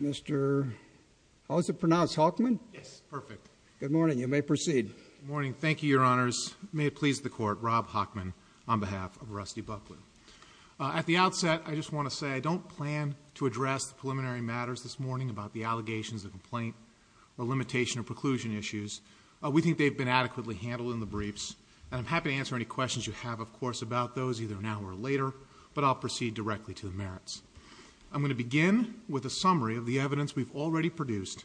Mr. How is it pronounced? Hockman? Yes. Perfect. Good morning. You may proceed. Good morning. Thank you, Your Honors. May it please the Court, Rob Hockman on behalf of Rusty Bucklew. At the outset, I just want to say I don't plan to address the preliminary matters this morning about the allegations of complaint or limitation or preclusion issues. We think they've been adequately handled in the briefs, and I'm happy to answer any questions you have, of course, about those either now or later, but I'll proceed directly to the merits. I'm going to begin with a summary of the evidence we've already produced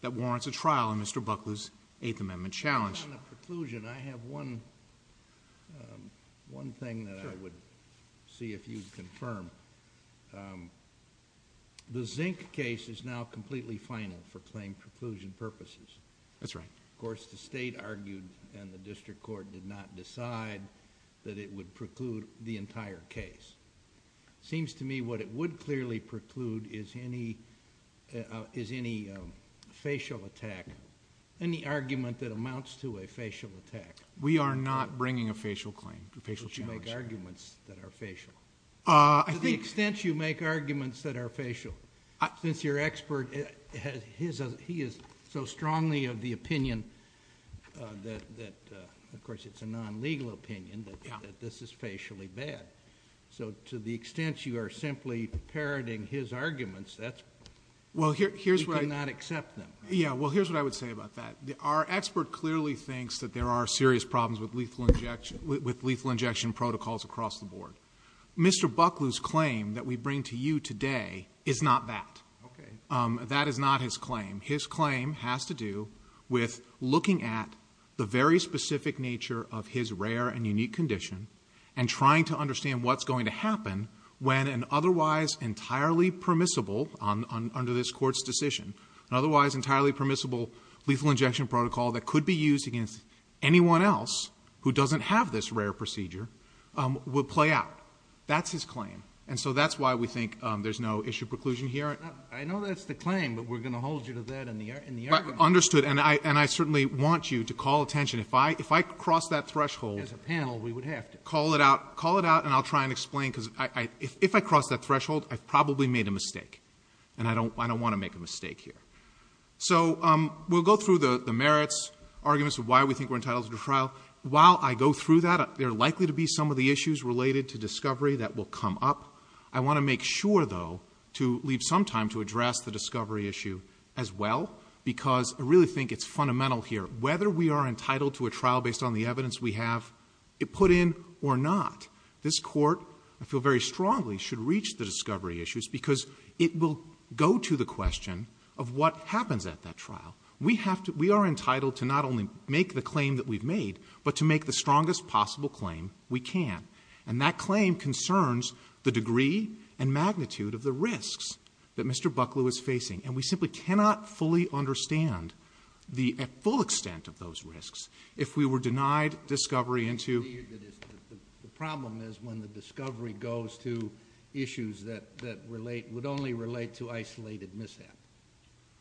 that warrants a trial in Mr. Bucklew's Eighth Amendment challenge. On the preclusion, I have one thing that I would see if you'd confirm. The Zink case is now completely final for claim preclusion purposes. That's right. Of course, the State argued and the District Court did not decide that it would preclude the entire case. It seems to me what it would clearly preclude is any facial attack, any argument that amounts to a facial attack. We are not bringing a facial claim, a facial challenge. To the extent you make arguments that are facial, since your expert, he is so strongly of the opinion that, of course, it's a non-legal opinion, that this is facially bad. To the extent you are simply parroting his arguments, you cannot accept them. Here's what I would say about that. Our expert clearly thinks that there are serious problems with lethal injection protocols across the board. Mr. Bucklew's claim that we bring to you today is not that. Okay. That is not his claim. His claim has to do with looking at the very specific nature of his rare and unique condition and trying to understand what's going to happen when an otherwise entirely permissible, under this Court's decision, an otherwise entirely permissible lethal injection protocol that could be used against anyone else who doesn't have this rare procedure will play out. That's his claim. And so that's why we think there's no issue preclusion here. I know that's the claim, but we're going to hold you to that in the argument. Understood. And I certainly want you to call attention. If I cross that threshold. As a panel, we would have to. Call it out. Call it out, and I'll try and explain, because if I cross that threshold, I've probably made a mistake. And I don't want to make a mistake here. So we'll go through the merits, arguments of why we think we're entitled to the trial. While I go through that, there are likely to be some of the issues related to discovery that will come up. I want to make sure, though, to leave some time to address the discovery issue as well, because I really think it's fundamental here. Whether we are entitled to a trial based on the evidence we have put in or not, this Court, I feel very strongly, should reach the discovery issues, because it will go to the question of what happens at that trial. We are entitled to not only make the claim that we've made, but to make the strongest possible claim we can. And that claim concerns the degree and magnitude of the risks that Mr. Bucklew is facing. And we simply cannot fully understand the full extent of those risks if we were denied discovery into... The problem is when the discovery goes to issues that would only relate to isolated mishap.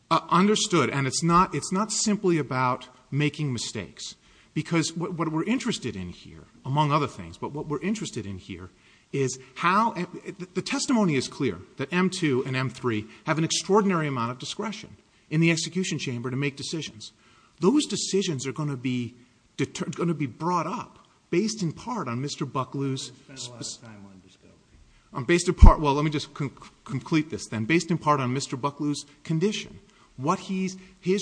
Understood. And it's not simply about making mistakes. Because what we're interested in here, among other things, but what we're interested in here is how... The testimony is clear that M2 and M3 have an extraordinary amount of discretion in the execution chamber to make decisions. Those decisions are going to be brought up based in part on Mr. Bucklew's... I'm going to spend a lot of time on this, though. Based in part... Well, let me just complete this, then. Based in part on Mr. Bucklew's condition, what his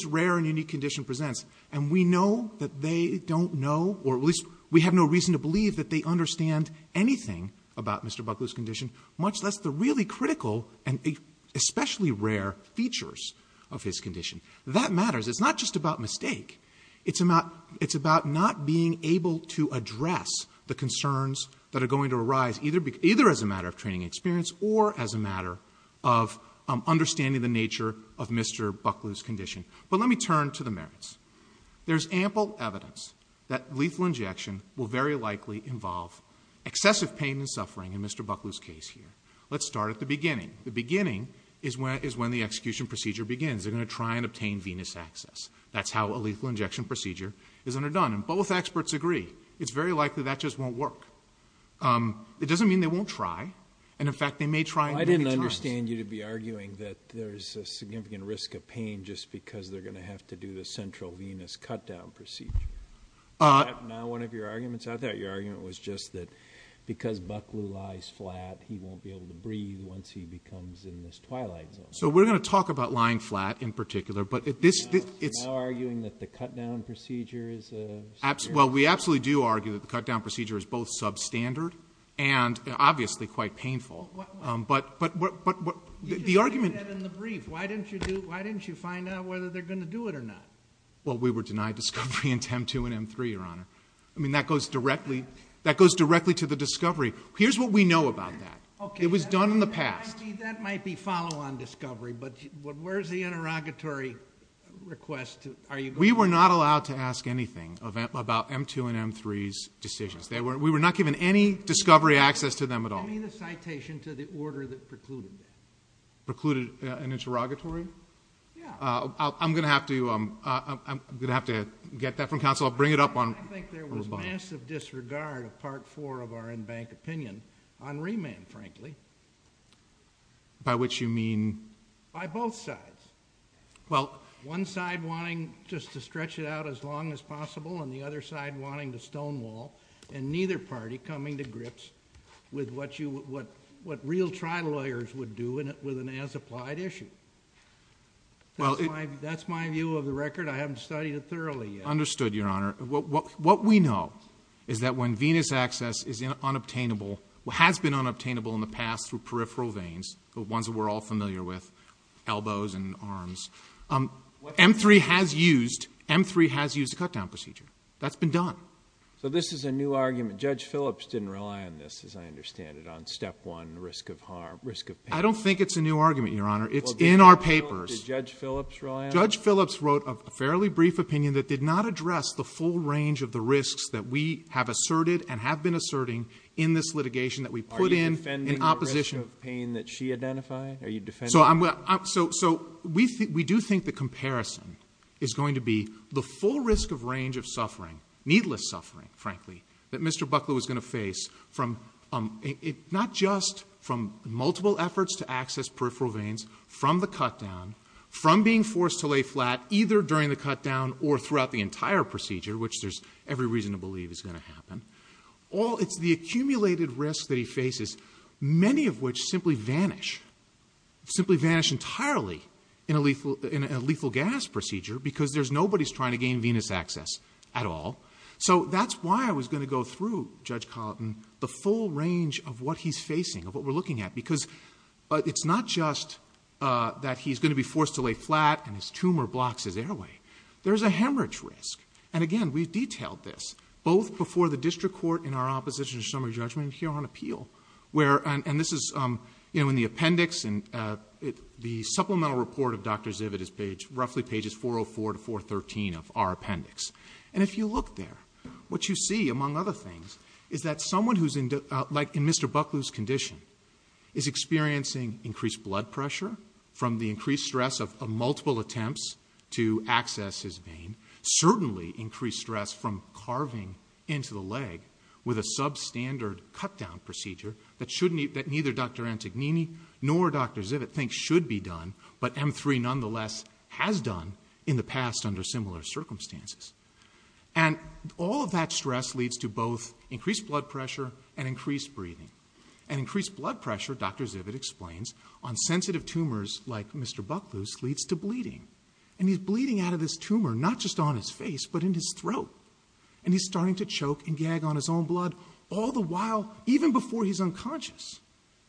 rare and unique condition presents. And we know that they don't know, or at least we have no reason to believe, that they understand anything about Mr. Bucklew's condition, much less the really critical and especially rare features of his condition. That matters. It's not just about mistake. It's about not being able to address the concerns that are going to arise, either as a matter of training experience or as a matter of understanding the nature of Mr. Bucklew's condition. But let me turn to the merits. There's ample evidence that lethal injection will very likely involve excessive pain and suffering in Mr. Bucklew's case here. Let's start at the beginning. The beginning is when the execution procedure begins. They're going to try and obtain venous access. That's how a lethal injection procedure is underdone, and both experts agree. It's very likely that just won't work. It doesn't mean they won't try, and, in fact, they may try many times. I understand you to be arguing that there's a significant risk of pain just because they're going to have to do the central venous cut-down procedure. Is that not one of your arguments? I thought your argument was just that because Bucklew lies flat, he won't be able to breathe once he becomes in this twilight zone. So we're going to talk about lying flat in particular, but this is— Are you arguing that the cut-down procedure is superior? Well, we absolutely do argue that the cut-down procedure is both substandard and, obviously, quite painful. You just did that in the brief. Why didn't you find out whether they're going to do it or not? Well, we were denied discovery into M2 and M3, Your Honor. I mean, that goes directly to the discovery. Here's what we know about that. It was done in the past. That might be follow-on discovery, but where's the interrogatory request? We were not allowed to ask anything about M2 and M3's decisions. We were not given any discovery access to them at all. Give me the citation to the order that precluded it. Precluded an interrogatory? Yeah. I'm going to have to get that from counsel. I'll bring it up on rebuttal. I think there was massive disregard of Part 4 of our in-bank opinion on remand, frankly. By which you mean? By both sides. Well, one side wanting just to stretch it out as long as possible and the other side wanting to stonewall, and neither party coming to grips with what real trial lawyers would do with an as-applied issue. That's my view of the record. I haven't studied it thoroughly yet. Understood, Your Honor. What we know is that when Venus Access is unobtainable, has been unobtainable in the past through peripheral veins, the ones that we're all familiar with, elbows and arms, M-3 has used a cut-down procedure. That's been done. So this is a new argument. Judge Phillips didn't rely on this, as I understand it, on Step 1, risk of harm, risk of pain. I don't think it's a new argument, Your Honor. It's in our papers. Did Judge Phillips rely on it? Judge Phillips wrote a fairly brief opinion that did not address the full range of the risks that we have asserted and have been asserting in this litigation that we put in in opposition. Are you defending the risk of pain that she identified? Are you defending? So we do think the comparison is going to be the full risk of range of suffering, needless suffering, frankly, that Mr. Buckley was going to face, not just from multiple efforts to access peripheral veins, from the cut-down, from being forced to lay flat either during the cut-down or throughout the entire procedure, which there's every reason to believe is going to happen. It's the accumulated risk that he faces, many of which simply vanish, simply vanish entirely in a lethal gas procedure because nobody's trying to gain venous access at all. So that's why I was going to go through, Judge Colleton, the full range of what he's facing, of what we're looking at, because it's not just that he's going to be forced to lay flat and his tumor blocks his airway. There's a hemorrhage risk. And, again, we've detailed this both before the district court in our opposition to summary judgment and here on appeal, and this is in the appendix and the supplemental report of Dr. Ziv at his page, roughly pages 404 to 413 of our appendix. And if you look there, what you see, among other things, is that someone who's in Mr. Buckley's condition is experiencing increased blood pressure and certainly increased stress from carving into the leg with a substandard cut-down procedure that neither Dr. Antognini nor Dr. Zivit think should be done, but M3 nonetheless has done in the past under similar circumstances. And all of that stress leads to both increased blood pressure and increased breathing. And increased blood pressure, Dr. Zivit explains, on sensitive tumors like Mr. Buckley's leads to bleeding. And he's bleeding out of his tumor not just on his face but in his throat. And he's starting to choke and gag on his own blood all the while, even before he's unconscious,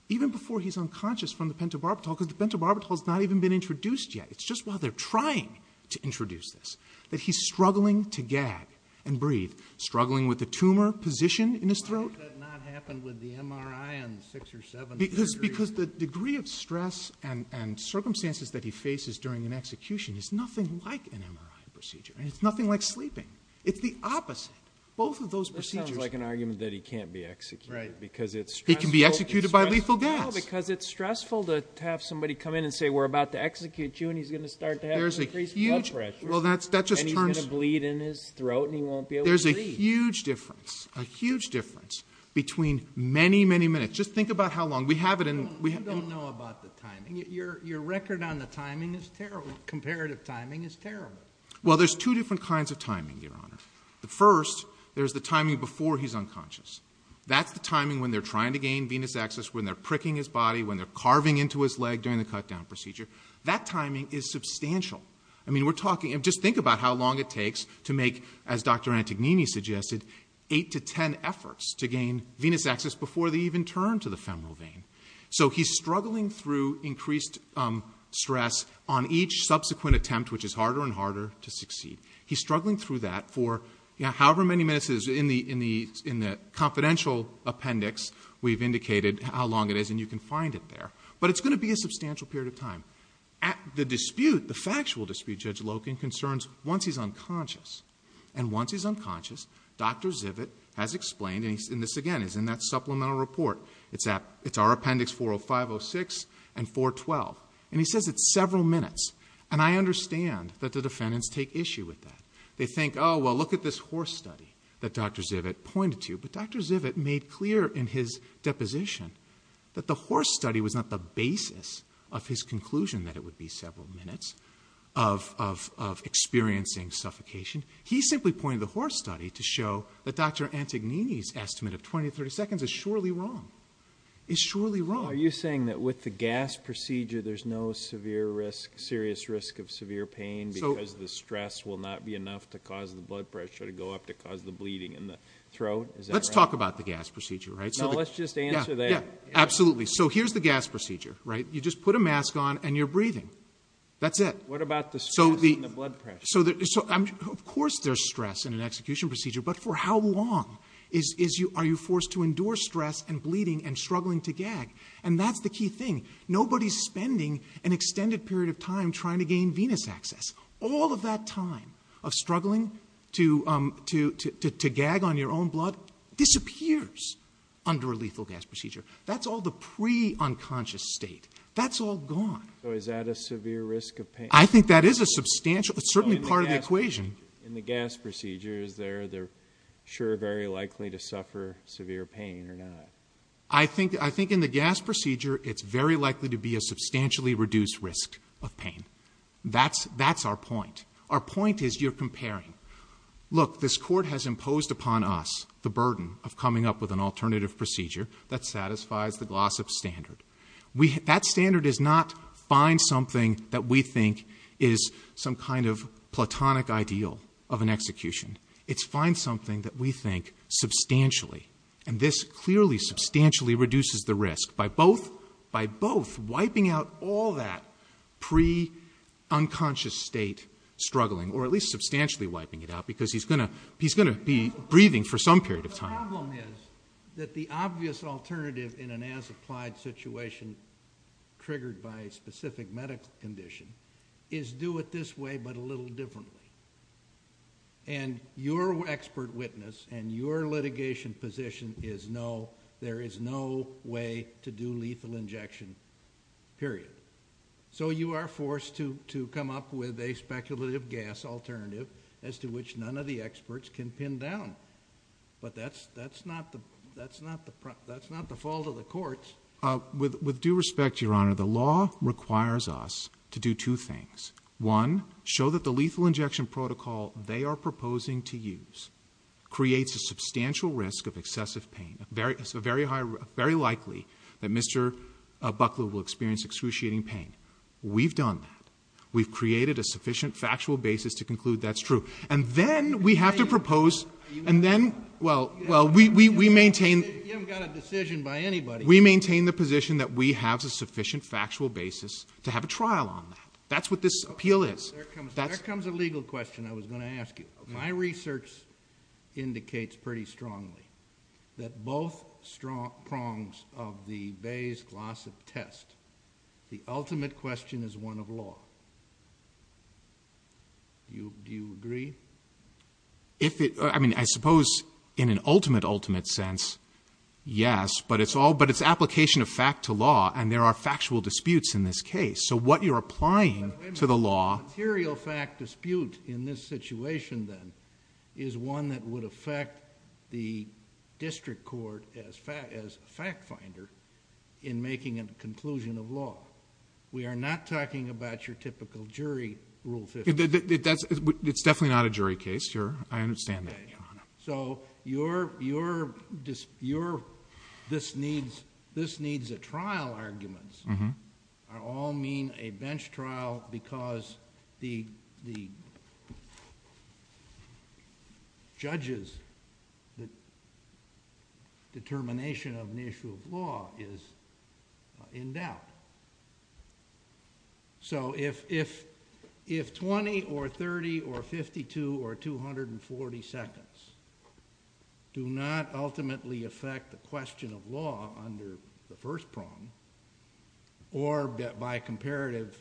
even before he's unconscious from the pentobarbital, because the pentobarbital has not even been introduced yet. It's just while they're trying to introduce this that he's struggling to gag and breathe, struggling with the tumor position in his throat. Why has that not happened with the MRI on 6 or 7? Because the degree of stress and circumstances that he faces during an execution is nothing like an MRI procedure, and it's nothing like sleeping. It's the opposite. Both of those procedures... That sounds like an argument that he can't be executed, because it's stressful. He can be executed by lethal gas. No, because it's stressful to have somebody come in and say, we're about to execute you, and he's going to start to have an increased blood pressure. Well, that just turns... And he's going to bleed in his throat, and he won't be able to breathe. There's a huge difference, a huge difference between many, many minutes. Just think about how long. You don't know about the timing. Your record on the timing is terrible. Comparative timing is terrible. Well, there's two different kinds of timing, Your Honor. First, there's the timing before he's unconscious. That's the timing when they're trying to gain venous access, when they're pricking his body, when they're carving into his leg during the cut-down procedure. That timing is substantial. I mean, we're talking... Just think about how long it takes to make, as Dr. Antognini suggested, 8 to 10 efforts to gain venous access before they even turn to the femoral vein. So he's struggling through increased stress on each subsequent attempt, which is harder and harder to succeed. He's struggling through that for however many minutes it is. In the confidential appendix, we've indicated how long it is, and you can find it there. But it's going to be a substantial period of time. The dispute, the factual dispute, Judge Loken concerns, once he's unconscious, and once he's unconscious, Dr. Zivit has explained, and this, again, is in that supplemental report. It's our appendix 40506 and 412. And he says it's several minutes. And I understand that the defendants take issue with that. They think, oh, well, look at this horse study that Dr. Zivit pointed to. But Dr. Zivit made clear in his deposition that the horse study was not the basis of his conclusion that it would be several minutes of experiencing suffocation. He simply pointed the horse study to show that Dr. Antognini's estimate of 20 to 30 seconds is surely wrong. It's surely wrong. Are you saying that with the gas procedure, there's no severe risk, serious risk of severe pain because the stress will not be enough to cause the blood pressure to go up to cause the bleeding in the throat? Is that right? Let's talk about the gas procedure, right? No, let's just answer that. Yeah, absolutely. So here's the gas procedure, right? They're breathing. That's it. What about the stress and the blood pressure? Of course there's stress in an execution procedure. But for how long are you forced to endure stress and bleeding and struggling to gag? And that's the key thing. Nobody's spending an extended period of time trying to gain venous access. All of that time of struggling to gag on your own blood disappears under a lethal gas procedure. That's all the pre-unconscious state. That's all gone. So is that a severe risk of pain? I think that is a substantial, it's certainly part of the equation. In the gas procedure, is there, they're sure very likely to suffer severe pain or not? I think in the gas procedure, it's very likely to be a substantially reduced risk of pain. That's our point. Our point is you're comparing. Look, this court has imposed upon us the burden of coming up with an alternative procedure that satisfies the Glossop standard. That standard is not find something that we think is some kind of platonic ideal of an execution. It's find something that we think substantially, and this clearly substantially reduces the risk by both wiping out all that pre-unconscious state struggling, or at least substantially wiping it out because he's going to be breathing for some period of time. The problem is that the obvious alternative in an as-applied situation triggered by a specific medical condition is do it this way but a little differently. Your expert witness and your litigation position is no, there is no way to do lethal injection, period. You are forced to come up with a speculative gas alternative as to which none of the experts can pin down. But that's not the fault of the courts. With due respect, Your Honor, the law requires us to do two things. One, show that the lethal injection protocol they are proposing to use creates a substantial risk of excessive pain. It's very likely that Mr. Buckley will experience excruciating pain. We've done that. We've created a sufficient factual basis to conclude that's true. And then we have to propose, and then, well, we maintain... You haven't got a decision by anybody. We maintain the position that we have a sufficient factual basis to have a trial on that. That's what this appeal is. There comes a legal question I was going to ask you. My research indicates pretty strongly that both prongs of the Bayes-Glossop test, the ultimate question is one of law. Do you agree? I mean, I suppose in an ultimate, ultimate sense, yes. But it's application of fact to law, and there are factual disputes in this case. So what you're applying to the law... A material fact dispute in this situation, then, is one that would affect the district court as fact finder in making a conclusion of law. We are not talking about your typical jury rule. It's definitely not a jury case. I understand that. So this needs a trial argument. I all mean a bench trial because the judge's determination of an issue of law is in doubt. So if 20 or 30 or 52 or 240 seconds do not ultimately affect the question of law under the first prong, or by comparison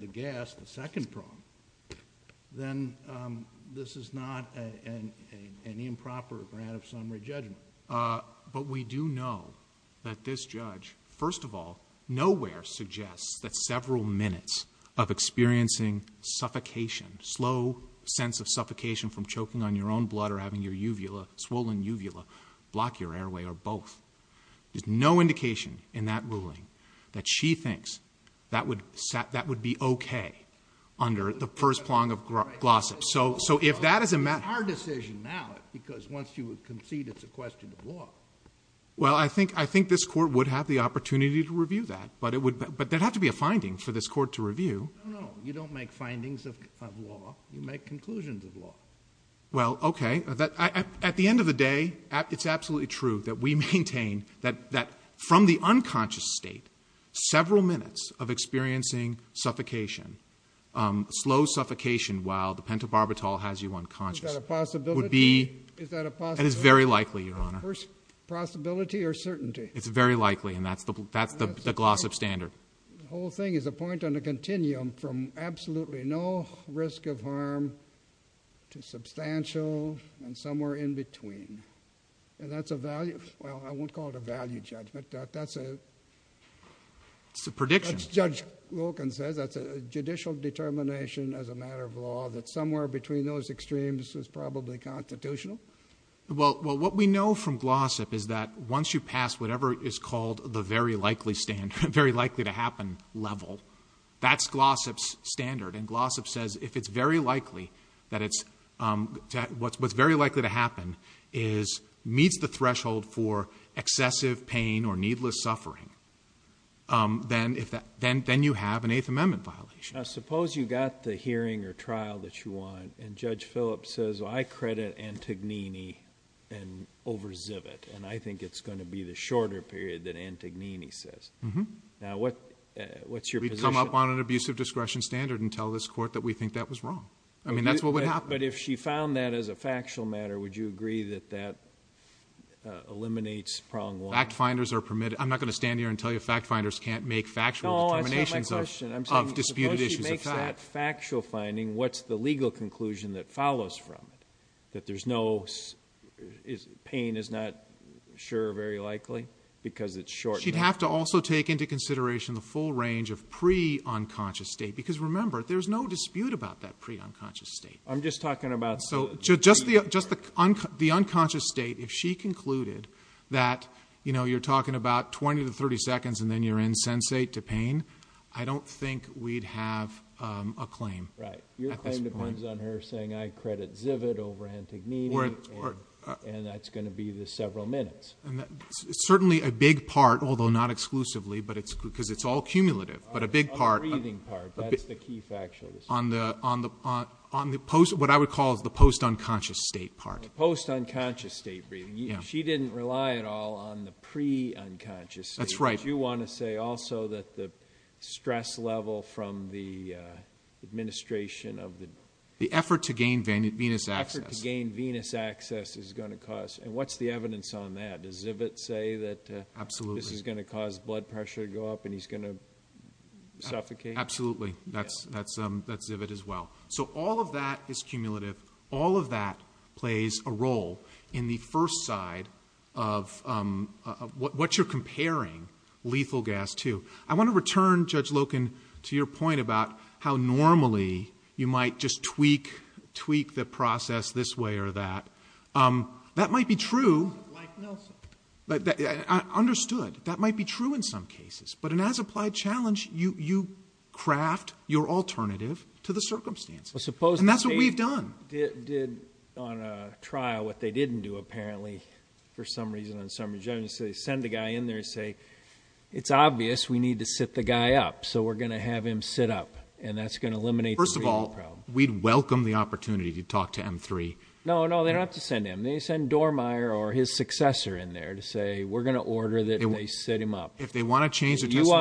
to guess, the second prong, then this is not an improper grant of summary judgment. But we do know that this judge, first of all, nowhere suggests that several minutes of experiencing suffocation, slow sense of suffocation from choking on your own blood or having your uvula, swollen uvula, block your airway or both. There's no indication in that ruling that she thinks that would be okay under the first prong of Glossop. It's our decision now because once you concede it's a question of law. Well, I think this court would have the opportunity to review that. But there would have to be a finding for this court to review. No, no. You don't make findings of law. You make conclusions of law. Well, okay. At the end of the day, it's absolutely true that we maintain that from the unconscious state, several minutes of experiencing suffocation, slow suffocation while the pentobarbital has you unconscious. Is that a possibility? Would be. Is that a possibility? And it's very likely, Your Honor. First possibility or certainty? It's very likely, and that's the Glossop standard. The whole thing is a point on a continuum from absolutely no risk of harm to substantial and somewhere in between. And that's a value. Well, I won't call it a value judgment. That's a... It's a prediction. Judge Wilkins says that's a judicial determination as a matter of law that somewhere between those extremes is probably constitutional. Well, what we know from Glossop is that once you pass whatever is called the very likely standard, very likely to happen level, that's Glossop's standard. And Glossop says if it's very likely that it's... What's very likely to happen is meets the threshold for excessive pain or needless suffering, then you have an Eighth Amendment violation. Now, suppose you got the hearing or trial that you want, and Judge Phillips says, well, I credit Antognini and over-Zivit, and I think it's going to be the shorter period that Antognini says. Now, what's your position? We can't come up on an abusive discretion standard and tell this court that we think that was wrong. I mean, that's what would happen. But if she found that as a factual matter, would you agree that that eliminates prong one? Fact-finders are permitted. I'm not going to stand here and tell you fact-finders can't make factual determinations of disputed issues of fact. No, that's not my question. I'm saying, suppose she makes that factual finding, what's the legal conclusion that follows from it? That there's no... Pain is not sure or very likely because it's short. She'd have to also take into consideration the full range of pre-unconscious state. Because, remember, there's no dispute about that pre-unconscious state. I'm just talking about... Just the unconscious state. If she concluded that, you know, you're talking about 20 to 30 seconds and then you're in sensate to pain, I don't think we'd have a claim at this point. Right. Your claim depends on her saying I credit Zivit over Antognini, and that's going to be the several minutes. Certainly a big part, although not exclusively, because it's all cumulative, but a big part... On the breathing part, that's the key factual decision. On the post, what I would call the post-unconscious state part. Post-unconscious state breathing. She didn't rely at all on the pre-unconscious state. That's right. But you want to say also that the stress level from the administration of the... The effort to gain venous access. The effort to gain venous access is going to cost... And what's the evidence on that? Does Zivit say that this is going to cause blood pressure to go up and he's going to suffocate? Absolutely. That's Zivit as well. So all of that is cumulative. All of that plays a role in the first side of what you're comparing lethal gas to. I want to return, Judge Loken, to your point about how normally you might just tweak the process this way or that. That might be true. Like Nelson. Understood. That might be true in some cases. But an as-applied challenge, you craft your alternative to the circumstances. And that's what we've done. Suppose the state did on a trial what they didn't do, apparently, for some reason, send a guy in there and say, it's obvious we need to sit the guy up. So we're going to have him sit up. And that's going to eliminate the real problem. First of all, we'd welcome the opportunity to talk to M3. No, no, they don't have to send him. They send Dormier or his successor in there to say we're going to order that they sit him up. If they want to change their testimony. You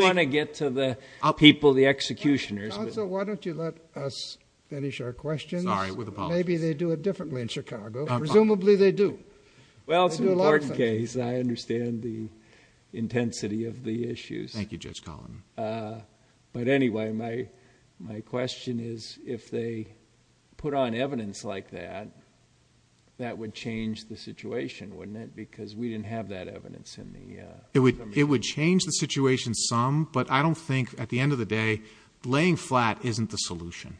want to get to the people, the executioners. Counsel, why don't you let us finish our questions? Sorry, with a pause. Maybe they do it differently in Chicago. Presumably they do. Well, it's an important case. I understand the intensity of the issues. Thank you, Judge Collin. But anyway, my question is, if they put on evidence like that, that would change the situation, wouldn't it? Because we didn't have that evidence in the... It would change the situation some. But I don't think, at the end of the day, laying flat isn't the solution.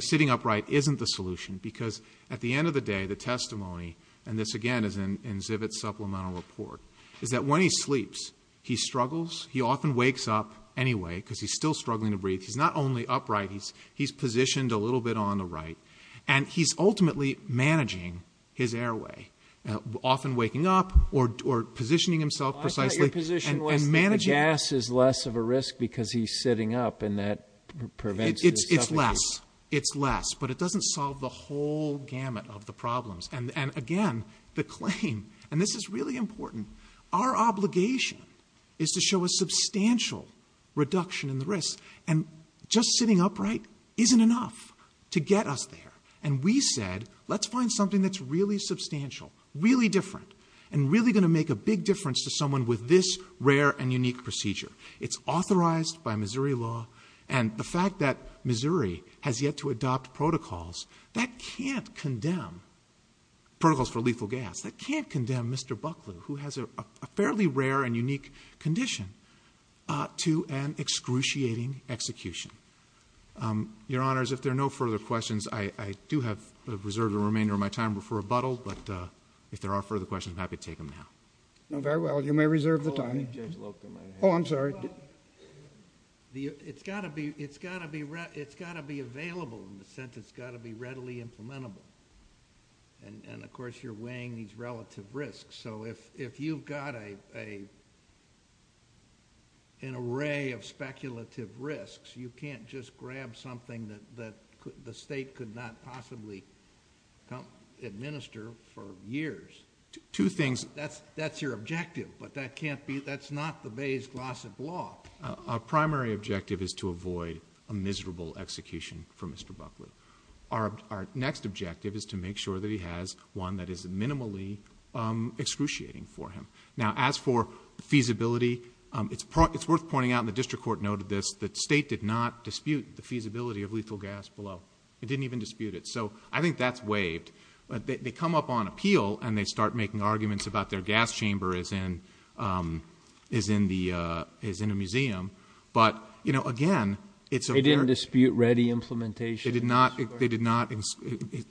Sitting upright isn't the solution. Because at the end of the day, the testimony, and this again is in Zivit's supplemental report, is that when he sleeps, he struggles. He often wakes up anyway because he's still struggling to breathe. He's not only upright. He's positioned a little bit on the right. And he's ultimately managing his airway. Often waking up or positioning himself precisely. I thought your position was that the gas is less of a risk because he's sitting up and that prevents his suffocation. It's less. It's less. It's a whole gamut of the problems. And again, the claim, and this is really important, our obligation is to show a substantial reduction in the risk. And just sitting upright isn't enough to get us there. And we said, let's find something that's really substantial, really different, and really going to make a big difference to someone with this rare and unique procedure. It's authorized by Missouri law. And the fact that Missouri has yet to adopt protocols that can't condemn, protocols for lethal gas, that can't condemn Mr. Buckley, who has a fairly rare and unique condition, to an excruciating execution. Your Honors, if there are no further questions, I do have reserved the remainder of my time for rebuttal. But if there are further questions, I'm happy to take them now. Very well. You may reserve the time. Oh, I'm sorry. It's got to be available in the sense it's got to be readily implementable. And, of course, you're weighing these relative risks. So if you've got an array of speculative risks, you can't just grab something that the state could not possibly administer for years. Two things. That's your objective, but that's not the Bay's Glossop law. Our primary objective is to avoid a miserable execution for Mr. Buckley. Our next objective is to make sure that he has one that is minimally excruciating for him. Now, as for feasibility, it's worth pointing out, and the district court noted this, that the state did not dispute the feasibility of lethal gas below. It didn't even dispute it. So I think that's waived. They come up on appeal, and they start making arguments about their gas chamber is in a museum. But, you know, again, it's a fair ---- They didn't dispute ready implementation? They did not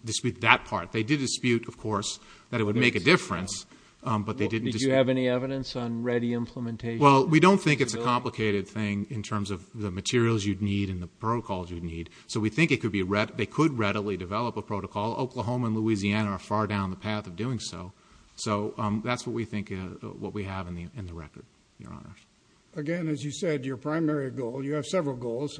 dispute that part. They did dispute, of course, that it would make a difference, but they didn't dispute ---- Did you have any evidence on ready implementation? Well, we don't think it's a complicated thing in terms of the materials you'd need and the protocols you'd need. So we think they could readily develop a protocol. Well, Oklahoma and Louisiana are far down the path of doing so. So that's what we think, what we have in the record, Your Honor. Again, as you said, your primary goal, you have several goals,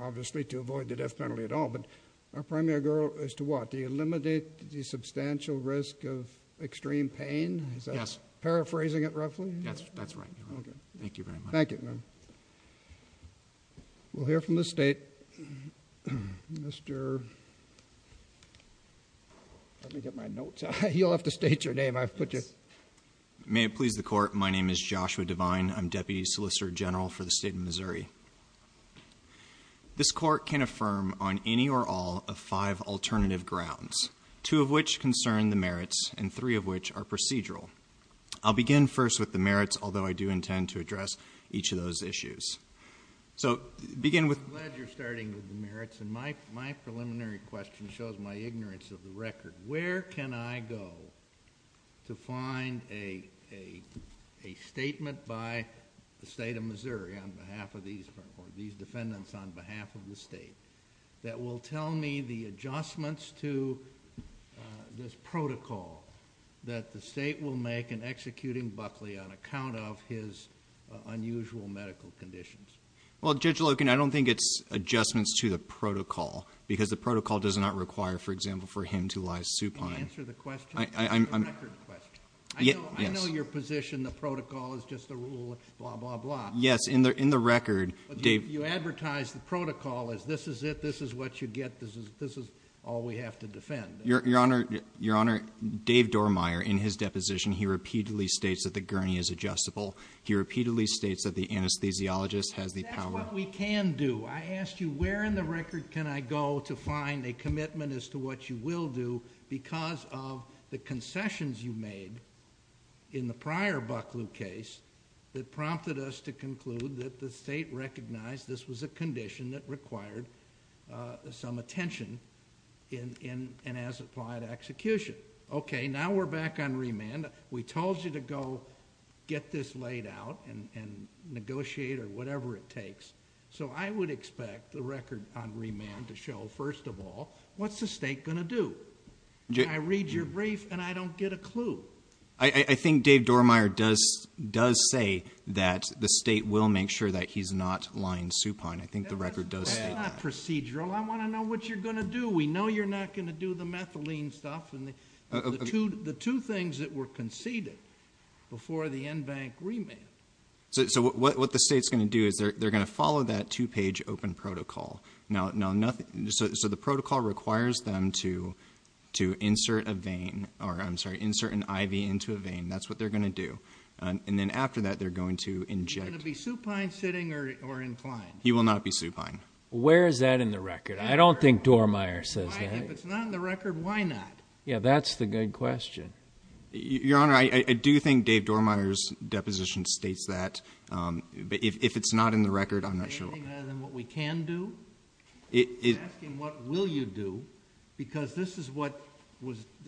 obviously, to avoid the death penalty at all. But our primary goal is to what? To eliminate the substantial risk of extreme pain? Yes. Is that paraphrasing it roughly? Yes, that's right. Okay. Thank you very much. Thank you. We'll hear from the State. Mr. Let me get my notes out. You'll have to state your name. May it please the Court, my name is Joshua Devine. I'm Deputy Solicitor General for the State of Missouri. This Court can affirm on any or all of five alternative grounds, two of which concern the merits and three of which are procedural. I'll begin first with the merits, although I do intend to address each of those issues. So begin with... I'm glad you're starting with the merits. And my preliminary question shows my ignorance of the record. Where can I go to find a statement by the State of Missouri on behalf of these defendants on behalf of the State that will tell me the adjustments to this protocol that the State will make in executing Buckley on account of his unusual medical conditions? Well, Judge Loken, I don't think it's adjustments to the protocol because the protocol does not require, for example, for him to lie supine. Can you answer the question? I'm... I know your position, the protocol is just a rule of blah, blah, blah. Yes, in the record... You advertise the protocol as this is it, this is what you get, this is all we have to defend. Your Honor, Dave Dormier in his deposition, he repeatedly states that the gurney is adjustable. He repeatedly states that the anesthesiologist has the power... That's what we can do. I asked you where in the record can I go to find a commitment as to what you will do because of the concessions you made in the prior Buckley case that prompted us to conclude that the State recognized this was a condition that required some attention and has applied execution. Okay, now we're back on remand. We told you to go get this laid out and negotiate or whatever it takes. So, I would expect the record on remand to show, first of all, what's the State going to do? I read your brief and I don't get a clue. I think Dave Dormier does say that the State will make sure that he's not lying supine. I think the record does state that. We're not procedural. I want to know what you're going to do. We know you're not going to do the methylene stuff and the two things that were conceded before the en banc remand. So, what the State's going to do is they're going to follow that two-page open protocol. So, the protocol requires them to insert an IV into a vein. That's what they're going to do. And then after that, they're going to inject. Is he going to be supine sitting or inclined? He will not be supine. Where is that in the record? I don't think Dormier says that. If it's not in the record, why not? Yeah, that's the good question. Your Honor, I do think Dave Dormier's deposition states that. But if it's not in the record, I'm not sure why. You're asking what we can do? You're asking what will you do? Because this is what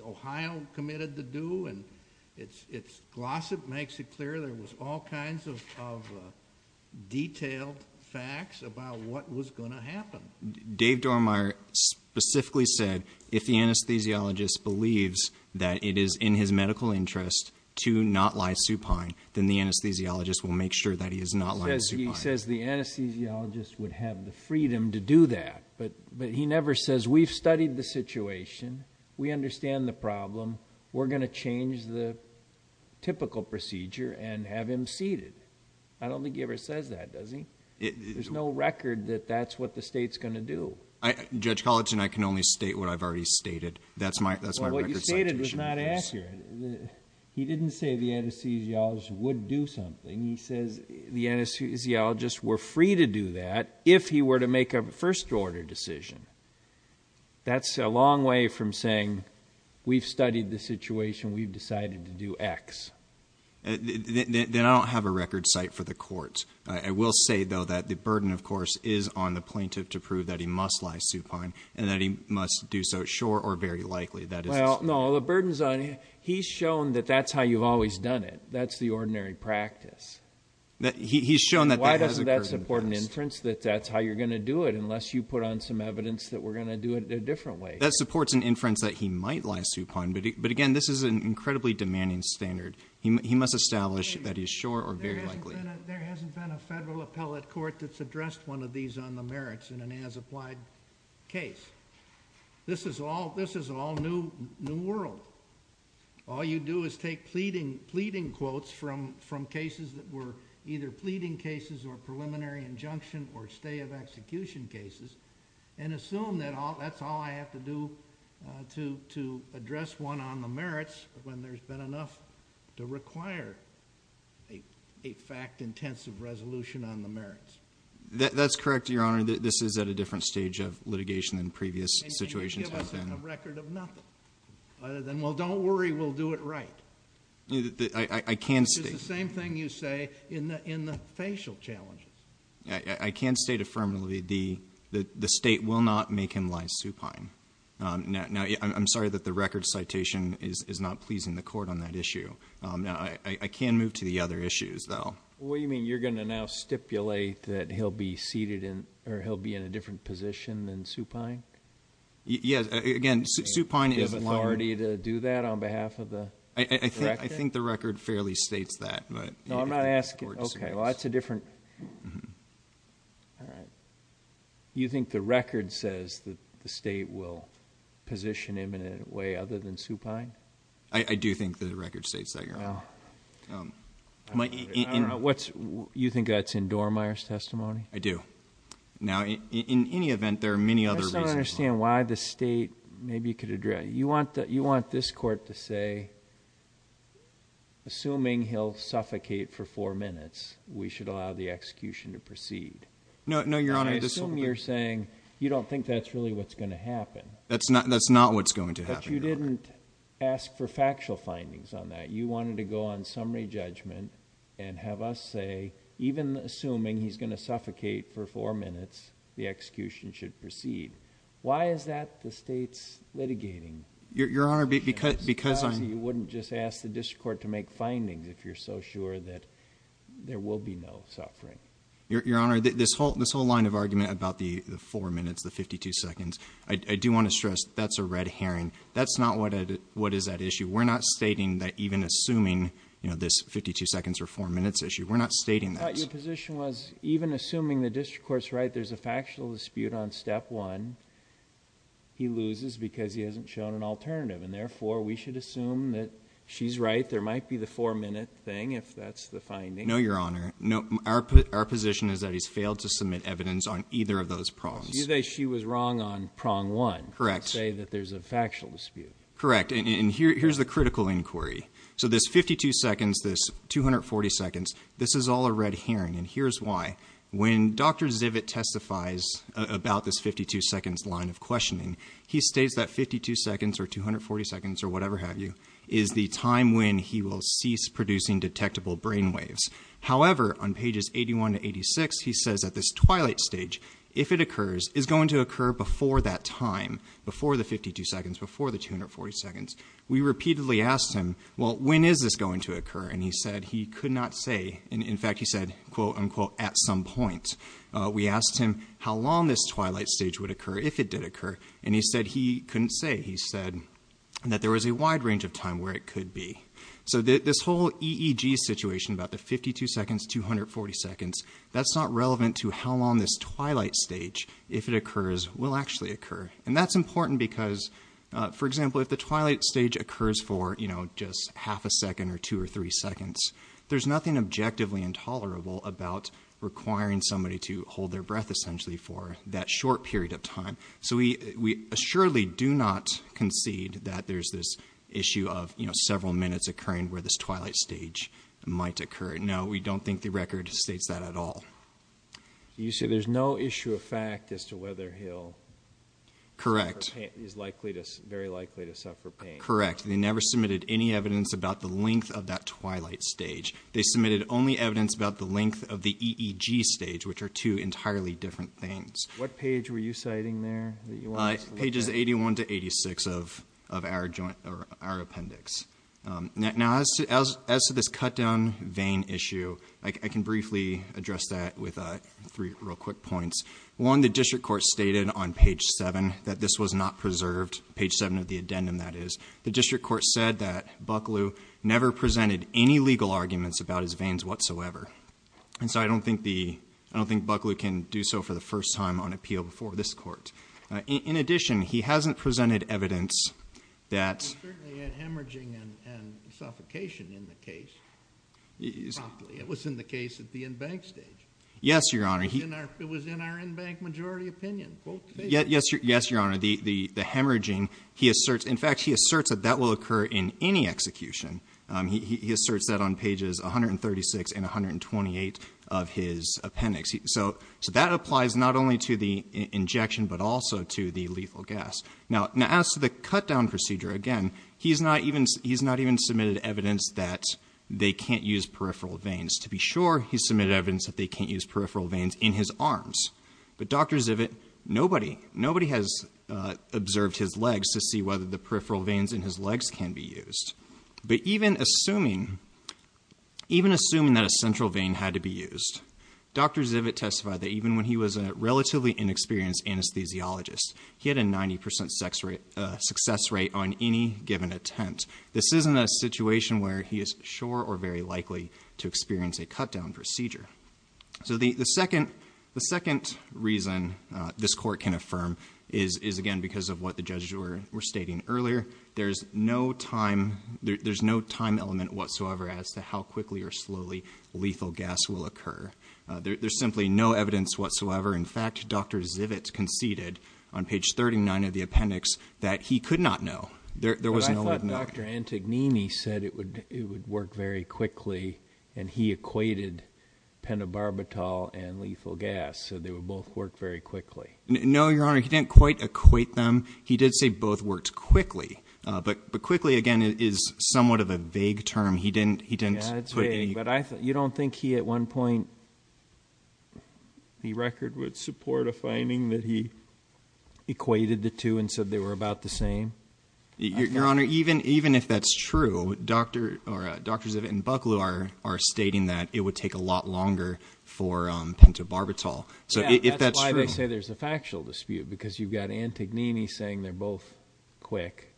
Ohio committed to do. And its gloss it makes it clear there was all kinds of detailed facts about what was going to happen. Dave Dormier specifically said if the anesthesiologist believes that it is in his medical interest to not lie supine, then the anesthesiologist will make sure that he is not lying supine. He says the anesthesiologist would have the freedom to do that. But he never says we've studied the situation. We understand the problem. We're going to change the typical procedure and have him seated. I don't think he ever says that, does he? There's no record that that's what the state's going to do. Judge Collinson, I can only state what I've already stated. That's my record citation. Well, what you stated was not accurate. He didn't say the anesthesiologist would do something. He says the anesthesiologist were free to do that if he were to make a first-order decision. That's a long way from saying we've studied the situation. We've decided to do X. Then I don't have a record cite for the courts. I will say, though, that the burden, of course, is on the plaintiff to prove that he must lie supine and that he must do so sure or very likely. Well, no, the burden's on him. He's shown that that's how you've always done it. That's the ordinary practice. He's shown that that has occurred in the past. Why doesn't that support an inference that that's how you're going to do it unless you put on some evidence that we're going to do it a different way? That supports an inference that he might lie supine. But, again, this is an incredibly demanding standard. He must establish that he's sure or very likely. There hasn't been a federal appellate court that's addressed one of these on the merits in an as-applied case. This is all new world. All you do is take pleading quotes from cases that were either pleading cases or preliminary injunction or stay-of-execution cases and assume that that's all I have to do to address one on the merits when there's been enough to require a fact-intensive resolution on the merits. That's correct, Your Honor. This is at a different stage of litigation than previous situations have been. Well, don't worry. We'll do it right. I can state... It's the same thing you say in the facial challenges. I can state affirmatively that the State will not make him lie supine. Now, I'm sorry that the record citation is not pleasing the Court on that issue. I can move to the other issues, though. What do you mean? You're going to now stipulate that he'll be seated in or he'll be in a different position than supine? Yes. Again, supine is a liar. Do you have authority to do that on behalf of the Director? I think the record fairly states that. No, I'm not asking. Okay. Well, that's a different... All right. You think the record says that the State will position him in a way other than supine? I do think the record states that, Your Honor. You think that's in Dormeyer's testimony? I do. Now, in any event, there are many other reasons. I just don't understand why the State maybe could address... You want this Court to say, assuming he'll suffocate for four minutes, we should allow the execution to proceed. No, Your Honor. I assume you're saying you don't think that's really what's going to happen. That's not what's going to happen, Your Honor. But you didn't ask for factual findings on that. You wanted to go on summary judgment and have us say, even assuming he's going to suffocate for four minutes, the execution should proceed. Why is that the State's litigating? Your Honor, because I'm... Perhaps you wouldn't just ask the District Court to make findings if you're so sure that there will be no suffering. Your Honor, this whole line of argument about the four minutes, the 52 seconds, I do want to stress that's a red herring. That's not what is at issue. We're not stating that even assuming this 52 seconds or four minutes issue. We're not stating that. Your position was, even assuming the District Court's right, there's a factual dispute on Step 1, he loses because he hasn't shown an alternative. And therefore, we should assume that she's right, there might be the four-minute thing if that's the finding. No, Your Honor. Our position is that he's failed to submit evidence on either of those prongs. You say she was wrong on Prong 1. Correct. To say that there's a factual dispute. Correct. And here's the critical inquiry. So this 52 seconds, this 240 seconds, this is all a red herring, and here's why. When Dr. Zivit testifies about this 52 seconds line of questioning, he states that 52 seconds or 240 seconds or whatever have you is the time when he will cease producing detectable brainwaves. However, on pages 81 to 86, he says that this twilight stage, if it occurs, is going to occur before that time, before the 52 seconds, before the 240 seconds. We repeatedly asked him, well, when is this going to occur? And he said he could not say. In fact, he said, quote, unquote, at some point. We asked him how long this twilight stage would occur if it did occur, and he said he couldn't say. He said that there was a wide range of time where it could be. So this whole EEG situation about the 52 seconds, 240 seconds, that's not relevant to how long this twilight stage, if it occurs, will actually occur. And that's important because, for example, if the twilight stage occurs for, you know, just half a second or two or three seconds, there's nothing objectively intolerable about requiring somebody to hold their breath essentially for that short period of time. So we assuredly do not concede that there's this issue of, you know, several minutes occurring where this twilight stage might occur. No, we don't think the record states that at all. You say there's no issue of fact as to whether he'll suffer pain. Correct. He's very likely to suffer pain. Correct. They never submitted any evidence about the length of that twilight stage. They submitted only evidence about the length of the EEG stage, which are two entirely different things. What page were you citing there that you wanted us to look at? Pages 81 to 86 of our appendix. Now, as to this cut-down vein issue, I can briefly address that with three real quick points. One, the district court stated on page 7 that this was not preserved, page 7 of the addendum, that is. The district court said that Bucklew never presented any legal arguments about his veins whatsoever. And so I don't think Bucklew can do so for the first time on appeal before this court. In addition, he hasn't presented evidence that… There was certainly hemorrhaging and suffocation in the case. It was in the case at the in-bank stage. Yes, Your Honor. It was in our in-bank majority opinion. Yes, Your Honor. The hemorrhaging, he asserts. In fact, he asserts that that will occur in any execution. He asserts that on pages 136 and 128 of his appendix. So that applies not only to the injection but also to the lethal gas. Now, as to the cut-down procedure, again, he's not even submitted evidence that they can't use peripheral veins. To be sure, he submitted evidence that they can't use peripheral veins in his arms. But Dr. Zivit, nobody has observed his legs to see whether the peripheral veins in his legs can be used. But even assuming that a central vein had to be used, Dr. Zivit testified that even when he was a relatively inexperienced anesthesiologist, he had a 90% success rate on any given attempt. This isn't a situation where he is sure or very likely to experience a cut-down procedure. So the second reason this court can affirm is, again, because of what the judges were stating earlier. There's no time element whatsoever as to how quickly or slowly lethal gas will occur. There's simply no evidence whatsoever. In fact, Dr. Zivit conceded on page 39 of the appendix that he could not know. There was no way of knowing. But I thought Dr. Antognini said it would work very quickly, and he equated pentobarbital and lethal gas, so they would both work very quickly. No, Your Honor, he didn't quite equate them. He did say both worked quickly. But quickly, again, is somewhat of a vague term. Yeah, it's vague, but you don't think he at one point in the record would support a finding that he equated the two and said they were about the same? Your Honor, even if that's true, Dr. Zivit and Bucklew are stating that it would take a lot longer for pentobarbital. Yeah, that's why they say there's a factual dispute, because you've got Antognini saying they're both quick,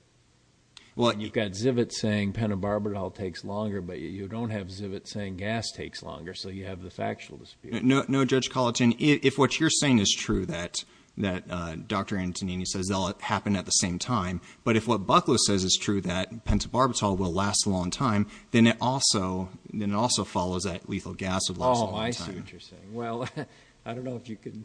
and you've got Zivit saying pentobarbital takes longer, but you don't have Zivit saying gas takes longer, so you have the factual dispute. No, Judge Colleton, if what you're saying is true, that Dr. Antognini says they'll happen at the same time, but if what Bucklew says is true, that pentobarbital will last a long time, then it also follows that lethal gas will last a long time. Oh, I see what you're saying. Well, I don't know if you can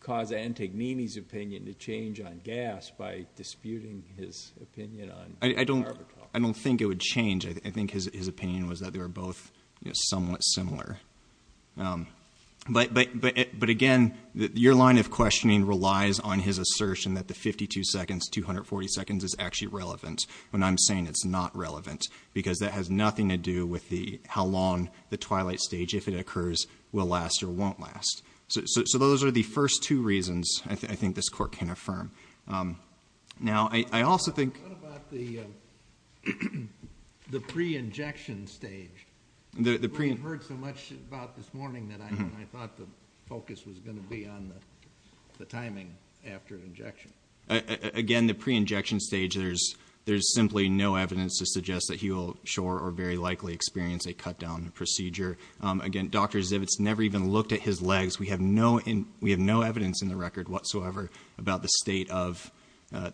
cause Antognini's opinion to change on gas by disputing his opinion on pentobarbital. I don't think it would change. I think his opinion was that they were both somewhat similar. But, again, your line of questioning relies on his assertion that the 52 seconds, 240 seconds is actually relevant when I'm saying it's not relevant, because that has nothing to do with how long the twilight stage, if it occurs, will last or won't last. So those are the first two reasons I think this court can affirm. Now, I also think... What about the pre-injection stage? You might have heard so much about this morning that I thought the focus was going to be on the timing after injection. Again, the pre-injection stage, there's simply no evidence to suggest that he will sure or very likely experience a cut-down procedure. Again, Dr. Zivitz never even looked at his legs. We have no evidence in the record whatsoever about the state of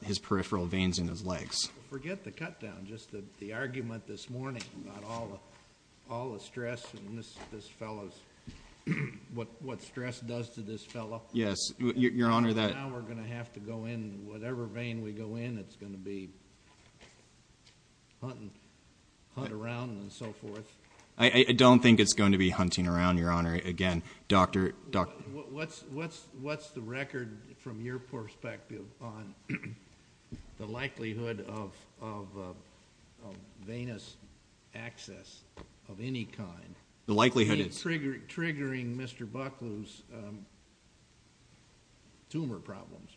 his peripheral veins in his legs. Forget the cut-down, just the argument this morning about all the stress and what stress does to this fellow. Yes, Your Honor, that... Now we're going to have to go in, whatever vein we go in, it's going to be hunting around and so forth. I don't think it's going to be hunting around, Your Honor. Again, Dr. Zivitz... What's the record from your perspective on the likelihood of venous access of any kind? The likelihood is... Triggering Mr. Bucklew's tumor problems.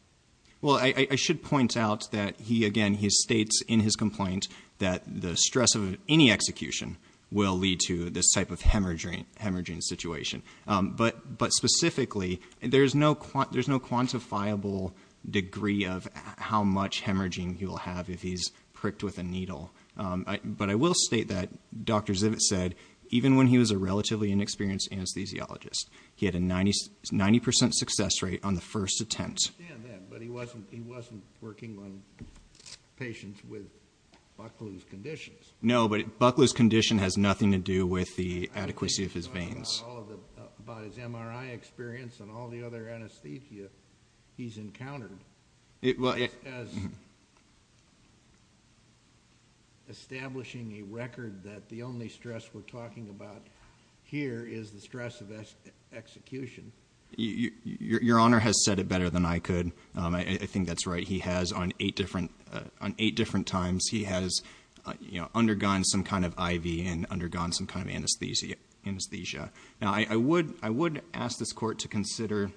Well, I should point out that he, again, he states in his complaint that the stress of any execution will lead to this type of hemorrhaging situation. But specifically, there's no quantifiable degree of how much hemorrhaging he will have if he's pricked with a needle. But I will state that Dr. Zivitz said, even when he was a relatively inexperienced anesthesiologist, he had a 90% success rate on the first attempt. I understand that, but he wasn't working on patients with Bucklew's conditions. No, but Bucklew's condition has nothing to do with the adequacy of his veins. By his MRI experience and all the other anesthesia he's encountered, as establishing a record that the only stress we're talking about here is the stress of execution. Your Honor has said it better than I could. I think that's right. He has, on eight different times, he has undergone some kind of IV and undergone some kind of anesthesia. Now, I would ask this Court to consider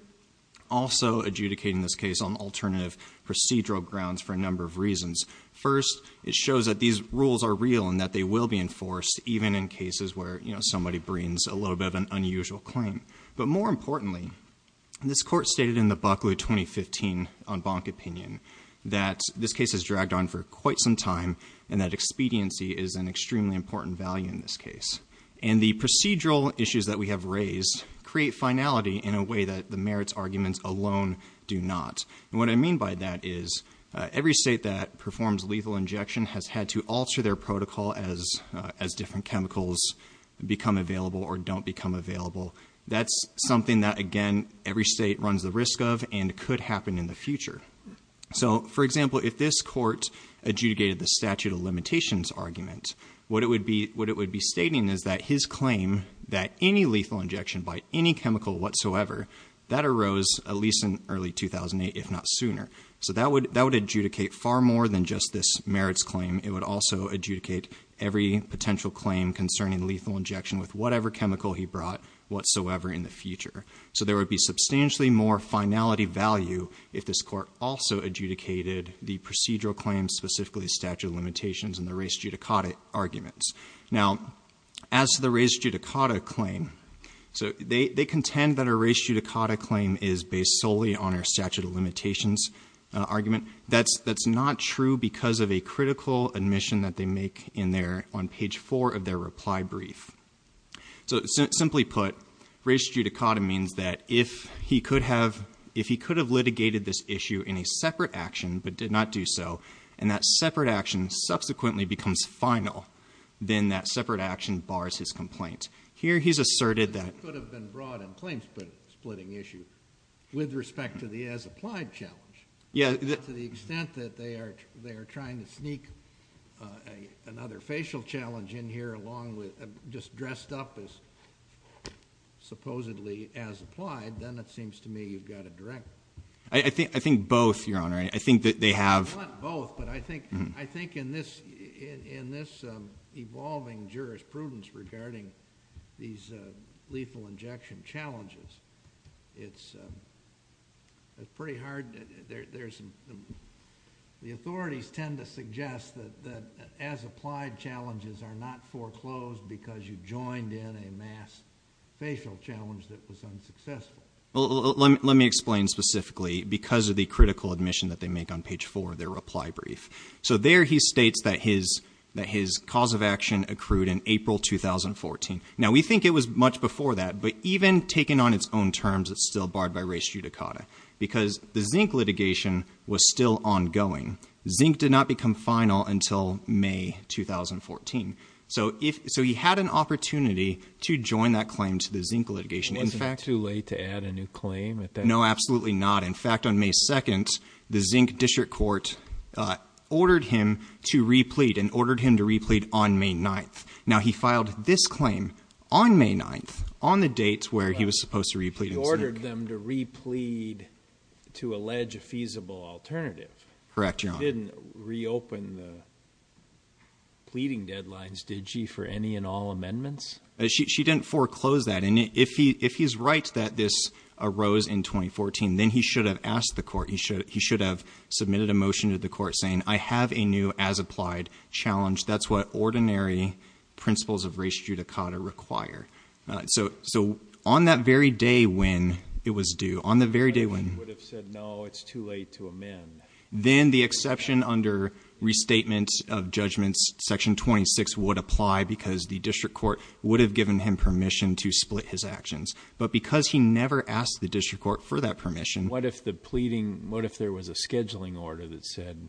also adjudicating this case on alternative procedural grounds for a number of reasons. First, it shows that these rules are real and that they will be enforced, even in cases where somebody brings a little bit of an unusual claim. But more importantly, this Court stated in the Bucklew 2015 en banc opinion that this case has dragged on for quite some time and that expediency is an extremely important value in this case. And the procedural issues that we have raised create finality in a way that the merits arguments alone do not. And what I mean by that is every state that performs lethal injection has had to alter their protocol as different chemicals become available or don't become available. That's something that, again, every state runs the risk of and could happen in the future. So, for example, if this Court adjudicated the statute of limitations argument, what it would be stating is that his claim that any lethal injection by any chemical whatsoever, that arose at least in early 2008, if not sooner. So that would adjudicate far more than just this merits claim. It would also adjudicate every potential claim concerning lethal injection with whatever chemical he brought whatsoever in the future. So there would be substantially more finality value if this Court also adjudicated the procedural claims, specifically the statute of limitations and the res judicata arguments. Now, as to the res judicata claim, they contend that a res judicata claim is based solely on our statute of limitations argument. That's not true because of a critical admission that they make on page 4 of their reply brief. So, simply put, res judicata means that if he could have litigated this issue in a separate action but did not do so, and that separate action subsequently becomes final, then that separate action bars his complaint. Here he's asserted that... But it could have been brought in claims-splitting issue with respect to the as-applied challenge. To the extent that they are trying to sneak another facial challenge in here along with just dressed up as supposedly as-applied, then it seems to me you've got to direct... I think both, Your Honor. I think that they have... Not both, but I think in this evolving jurisprudence regarding these lethal injection challenges, it's pretty hard. The authorities tend to suggest that as-applied challenges are not foreclosed because you joined in a mass facial challenge that was unsuccessful. Let me explain specifically. Because of the critical admission that they make on page 4 of their reply brief. So there he states that his cause of action accrued in April 2014. Now, we think it was much before that, but even taken on its own terms, it's still barred by res judicata. Because the Zink litigation was still ongoing. Zink did not become final until May 2014. So he had an opportunity to join that claim to the Zink litigation. Wasn't it too late to add a new claim at that time? No, absolutely not. In fact, on May 2nd, the Zink District Court ordered him to replete and ordered him to replete on May 9th. Now, he filed this claim on May 9th, on the dates where he was supposed to replete in Zink. He ordered them to replete to allege a feasible alternative. Correct, Your Honor. He didn't reopen the pleading deadlines, did she, for any and all amendments? She didn't foreclose that. And if he's right that this arose in 2014, then he should have asked the court. He should have submitted a motion to the court saying, I have a new as-applied challenge. That's what ordinary principles of res judicata require. So on that very day when it was due, on the very day when— He would have said, no, it's too late to amend. Then the exception under restatement of judgments, Section 26, would apply because the district court would have given him permission to split his actions. But because he never asked the district court for that permission— What if the pleading—what if there was a scheduling order that said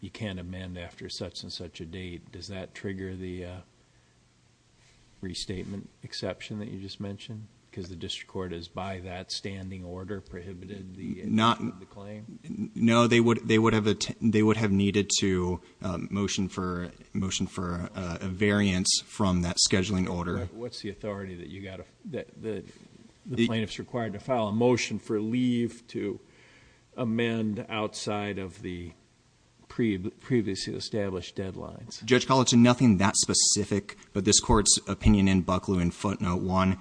you can't amend after such and such a date? Does that trigger the restatement exception that you just mentioned? Because the district court has, by that standing order, prohibited the claim? No, they would have needed to motion for a variance from that scheduling order. What's the authority that the plaintiff's required to file a motion for leave to amend outside of the previously established deadlines? Judge Collett, it's nothing that specific, but this court's opinion in Bucklew in footnote one,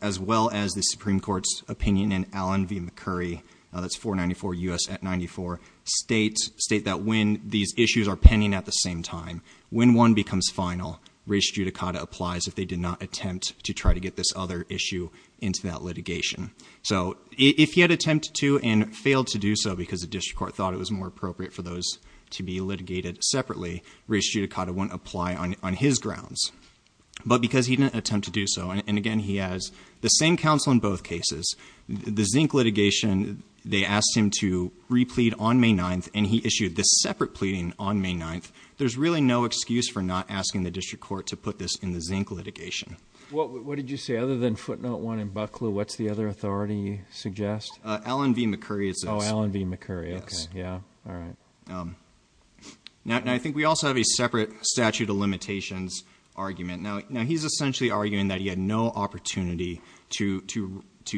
as well as the Supreme Court's opinion in Allen v. McCurry, that's 494 U.S. at 94, states that when these issues are pending at the same time, when one becomes final, res judicata applies if they did not attempt to try to get this other issue into that litigation. So if he had attempted to and failed to do so because the district court thought it was more appropriate for those to be litigated separately, res judicata wouldn't apply on his grounds. But because he didn't attempt to do so, and again, he has the same counsel in both cases, the zinc litigation, they asked him to replead on May 9th, and he issued this separate pleading on May 9th. There's really no excuse for not asking the district court to put this in the zinc litigation. What did you say? Other than footnote one in Bucklew, what's the other authority you suggest? Allen v. McCurry, it says. Oh, Allen v. McCurry. Okay. Yeah. All right. Now, I think we also have a separate statute of limitations argument. Now, he's essentially arguing that he had no opportunity to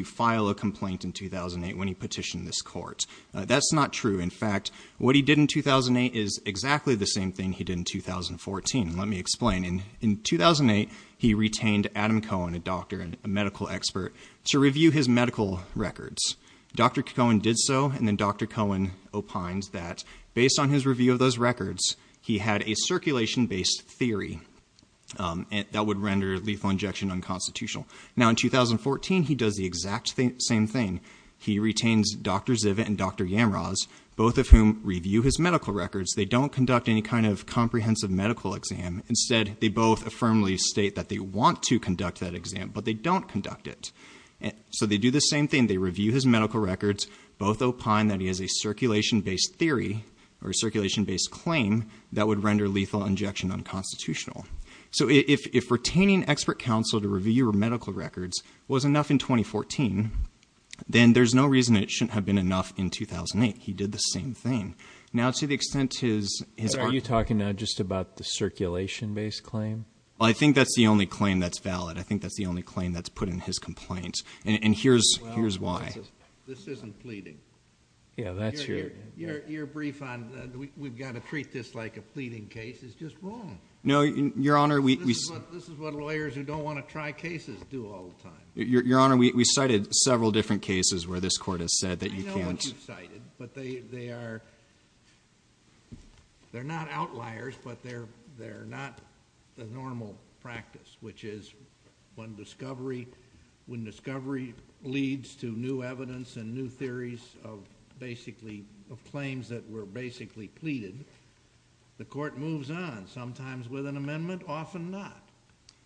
file a complaint in 2008 when he petitioned this court. That's not true. In fact, what he did in 2008 is exactly the same thing he did in 2014. Let me explain. In 2008, he retained Adam Cohen, a doctor and a medical expert, to review his medical records. Dr. Cohen did so, and then Dr. Cohen opined that based on his review of those records, he had a circulation-based theory that would render lethal injection unconstitutional. Now, in 2014, he does the exact same thing. He retains Dr. Zivit and Dr. Yamraz, both of whom review his medical records. They don't conduct any kind of comprehensive medical exam. Instead, they both affirmably state that they want to conduct that exam, but they don't conduct it. So they do the same thing. They review his medical records. Both opine that he has a circulation-based theory or a circulation-based claim that would render lethal injection unconstitutional. So if retaining expert counsel to review your medical records was enough in 2014, then there's no reason it shouldn't have been enough in 2008. He did the same thing. Now, to the extent his argument- But are you talking now just about the circulation-based claim? Well, I think that's the only claim that's valid. I think that's the only claim that's put in his complaint, and here's why. Well, this isn't pleading. Yeah, that's your- Your brief on we've got to treat this like a pleading case is just wrong. No, Your Honor, we- This is what lawyers who don't want to try cases do all the time. Your Honor, we cited several different cases where this court has said that you can't- But they are- They're not outliers, but they're not the normal practice, which is when discovery leads to new evidence and new theories of claims that were basically pleaded, the court moves on, sometimes with an amendment, often not.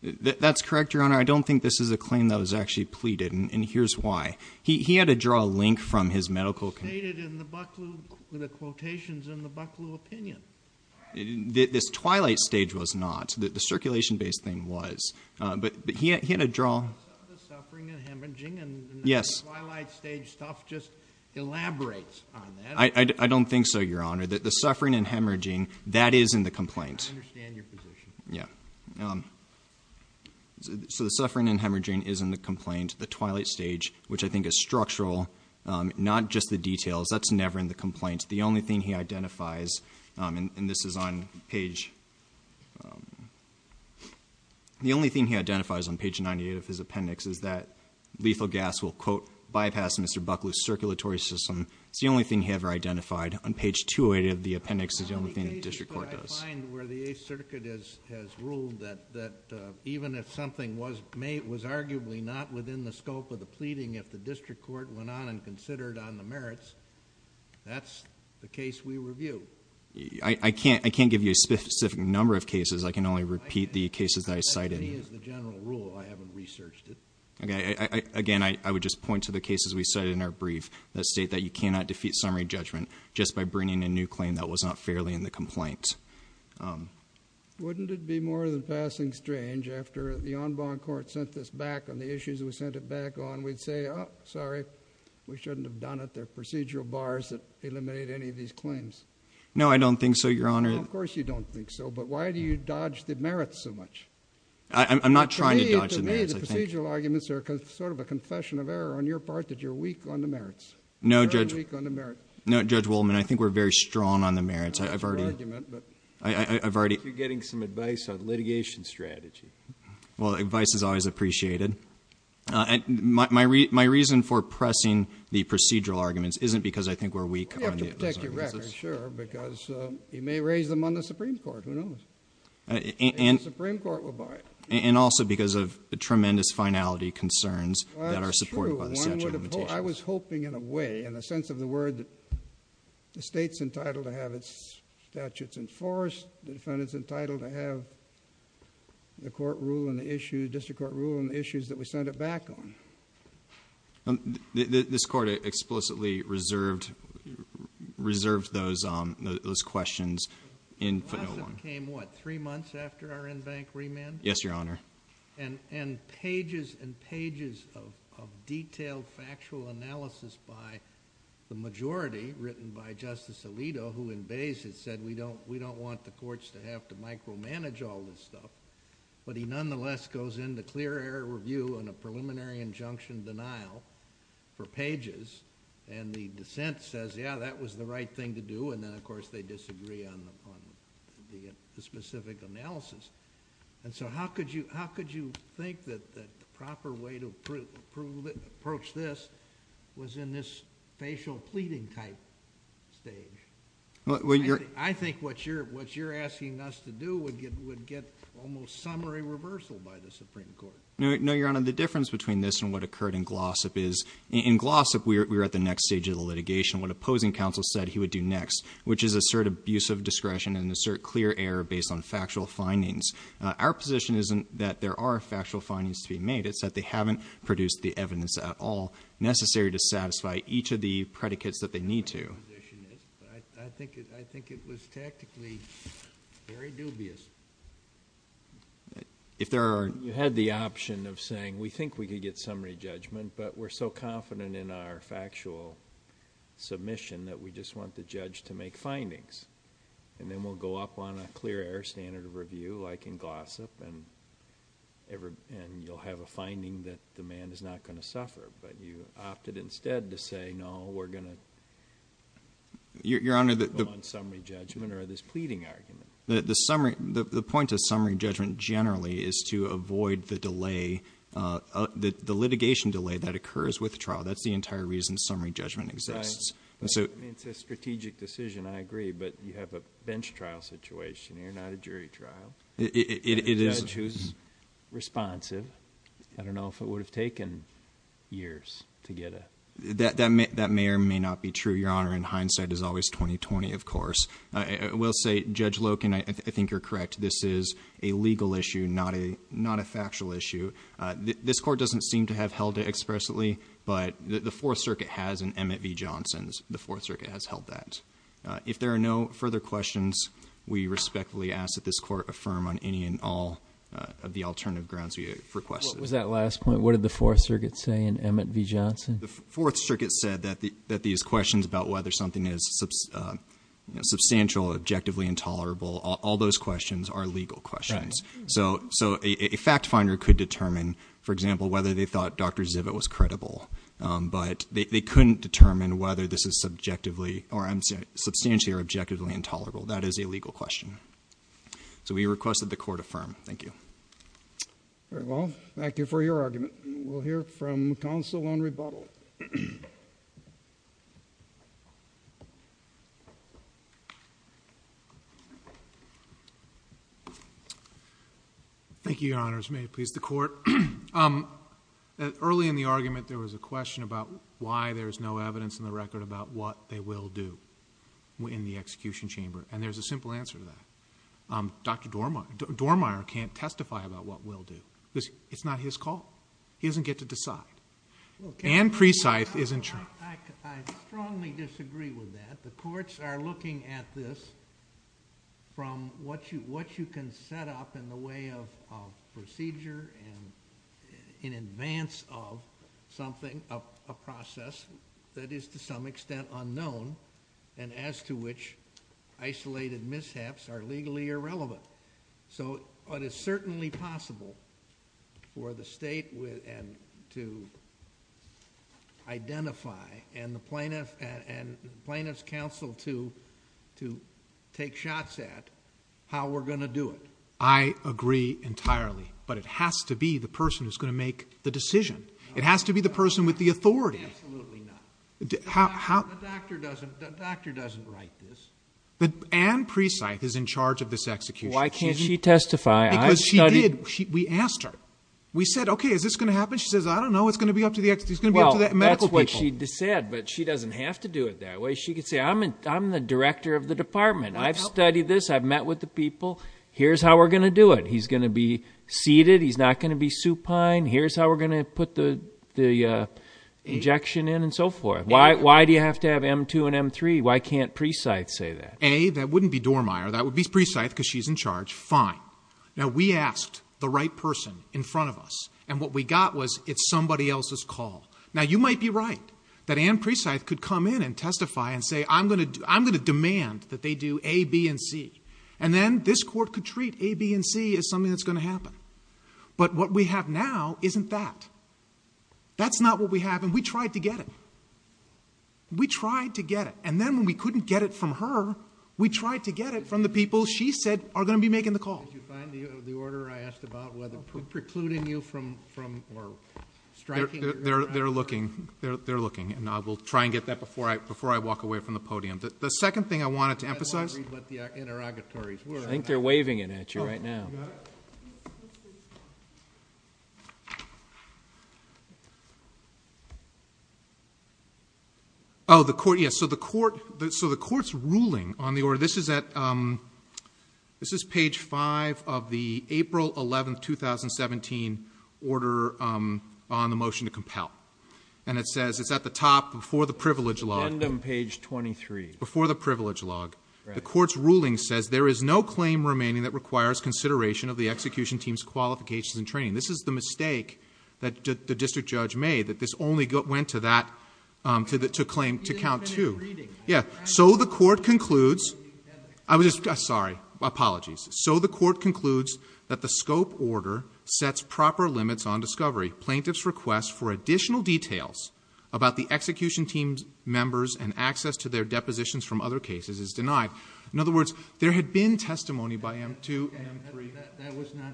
That's correct, Your Honor. I don't think this is a claim that was actually pleaded, and here's why. He had to draw a link from his medical- It was stated in the Bucklew- the quotations in the Bucklew opinion. This twilight stage was not. The circulation-based thing was, but he had to draw- The suffering and hemorrhaging and- Yes. The twilight stage stuff just elaborates on that. I don't think so, Your Honor. The suffering and hemorrhaging, that is in the complaint. I understand your position. Yeah. So the suffering and hemorrhaging is in the complaint. The twilight stage, which I think is structural, not just the details. That's never in the complaint. The only thing he identifies, and this is on page- The only thing he identifies on page 98 of his appendix is that lethal gas will, quote, bypass Mr. Bucklew's circulatory system. It's the only thing he ever identified. On page 28 of the appendix, it's the only thing the district court does. I find where the Eighth Circuit has ruled that even if something was arguably not within the scope of the pleading, if the district court went on and considered on the merits, that's the case we review. I can't give you a specific number of cases. I can only repeat the cases that I cited. That to me is the general rule. I haven't researched it. Again, I would just point to the cases we cited in our brief that state that you cannot defeat summary judgment just by bringing a new claim that was not fairly in the complaint. Wouldn't it be more than passing strange after the en banc court sent this back on the issues we sent it back on, we'd say, oh, sorry, we shouldn't have done it. There are procedural bars that eliminate any of these claims. No, I don't think so, Your Honor. Of course you don't think so, but why do you dodge the merits so much? I'm not trying to dodge the merits. To me, the procedural arguments are sort of a confession of error on your part that you're weak on the merits. No, Judge- Very weak on the merits. No, Judge Wolman, I think we're very strong on the merits. I've already- I think you're getting some advice on litigation strategy. Well, advice is always appreciated. My reason for pressing the procedural arguments isn't because I think we're weak on those arguments. You have to protect your records, sure, because you may raise them on the Supreme Court. Who knows? And the Supreme Court will buy it. And also because of the tremendous finality concerns that are supported by the statute of limitations. Well, I was hoping in a way, in a sense of the word, that the State's entitled to have its statutes enforced, the defendant's entitled to have the court rule on the issue, district court rule on the issues that we sent it back on. This Court explicitly reserved those questions in- The lawsuit came, what, three months after our in-bank remand? Yes, Your Honor. And pages and pages of detailed factual analysis by the majority, written by Justice Alito, who in base has said, we don't want the courts to have to micromanage all this stuff, but he nonetheless goes into clear air review on a preliminary injunction denial for pages, and the dissent says, yeah, that was the right thing to do, and then, of course, they disagree on the specific analysis. And so how could you think that the proper way to approach this was in this facial pleading type stage? I think what you're asking us to do would get almost summary reversal by the Supreme Court. No, Your Honor, the difference between this and what occurred in Glossop is, in Glossop, we were at the next stage of the litigation. What opposing counsel said he would do next, which is assert abuse of discretion and assert clear air based on factual findings. Our position isn't that there are factual findings to be made. It's that they haven't produced the evidence at all necessary to satisfy each of the predicates that they need to. I think it was tactically very dubious. If there are- You had the option of saying, we think we could get summary judgment, but we're so confident in our factual submission that we just want the judge to make findings. And then we'll go up on a clear air standard of review, like in Glossop, and you'll have a finding that the man is not going to suffer. But you opted instead to say, no, we're going to go on summary judgment or this pleading argument. The point of summary judgment generally is to avoid the litigation delay that occurs with trial. That's the entire reason summary judgment exists. It's a strategic decision, I agree. But you have a bench trial situation here, not a jury trial. A judge who's responsive. I don't know if it would have taken years to get a- That may or may not be true, Your Honor. In hindsight, it's always 2020, of course. I will say, Judge Loken, I think you're correct. This is a legal issue, not a factual issue. This court doesn't seem to have held it expressly, but the Fourth Circuit has in Emmett v. Johnson's. The Fourth Circuit has held that. If there are no further questions, we respectfully ask that this court affirm on any and all of the alternative grounds we have requested. What was that last point? What did the Fourth Circuit say in Emmett v. Johnson? The Fourth Circuit said that these questions about whether something is substantial, objectively intolerable, all those questions are legal questions. So a fact finder could determine, for example, whether they thought Dr. Zivit was credible. But they couldn't determine whether this is subjectively or substantially or objectively intolerable. That is a legal question. So we request that the court affirm. Thank you. Very well. Thank you for your argument. We'll hear from counsel on rebuttal. Thank you, Your Honors. May it please the Court. Early in the argument, there was a question about why there's no evidence in the record about what they will do in the execution chamber. And there's a simple answer to that. Dr. Dormier can't testify about what we'll do. It's not his call. He doesn't get to decide. And Presythe is in charge. I strongly disagree with that. The courts are looking at this from what you can set up in the way of procedure and in advance of something, a process that is to some extent unknown and as to which isolated mishaps are legally irrelevant. So it is certainly possible for the state to identify and the plaintiff's counsel to take shots at how we're going to do it. I agree entirely. But it has to be the person who's going to make the decision. It has to be the person with the authority. Absolutely not. The doctor doesn't write this. Anne Presythe is in charge of this execution. Why can't she testify? Because she did. We asked her. We said, okay, is this going to happen? She says, I don't know. It's going to be up to the medical people. Well, that's what she said, but she doesn't have to do it that way. She could say, I'm the director of the department. I've studied this. I've met with the people. Here's how we're going to do it. He's going to be seated. He's not going to be supine. Here's how we're going to put the injection in and so forth. Why do you have to have M2 and M3? Why can't Presythe say that? A, that wouldn't be Dormeyer. That would be Presythe because she's in charge. Fine. Now, we asked the right person in front of us. And what we got was it's somebody else's call. Now, you might be right that Anne Presythe could come in and testify and say, I'm going to demand that they do A, B, and C. And then this court could treat A, B, and C as something that's going to happen. But what we have now isn't that. That's not what we have. And we tried to get it. We tried to get it. And then when we couldn't get it from her, we tried to get it from the people she said are going to be making the call. Did you find the order I asked about whether precluding you from or striking? They're looking. They're looking. And I will try and get that before I walk away from the podium. The second thing I wanted to emphasize. I think they're waving it at you right now. You got it? Oh, the court. Yes. So the court's ruling on the order. This is page 5 of the April 11, 2017, order on the motion to compel. And it says it's at the top before the privilege log. At the end of page 23. Before the privilege log. Right. So the court's ruling says there is no claim remaining that requires consideration of the execution team's qualifications and training. This is the mistake that the district judge made. That this only went to that claim to count to. Yeah. So the court concludes. I'm sorry. Apologies. So the court concludes that the scope order sets proper limits on discovery. Plaintiff's request for additional details about the execution team's members and access to their depositions from other cases is denied. In other words, there had been testimony by M2 and M3... Okay. That was not...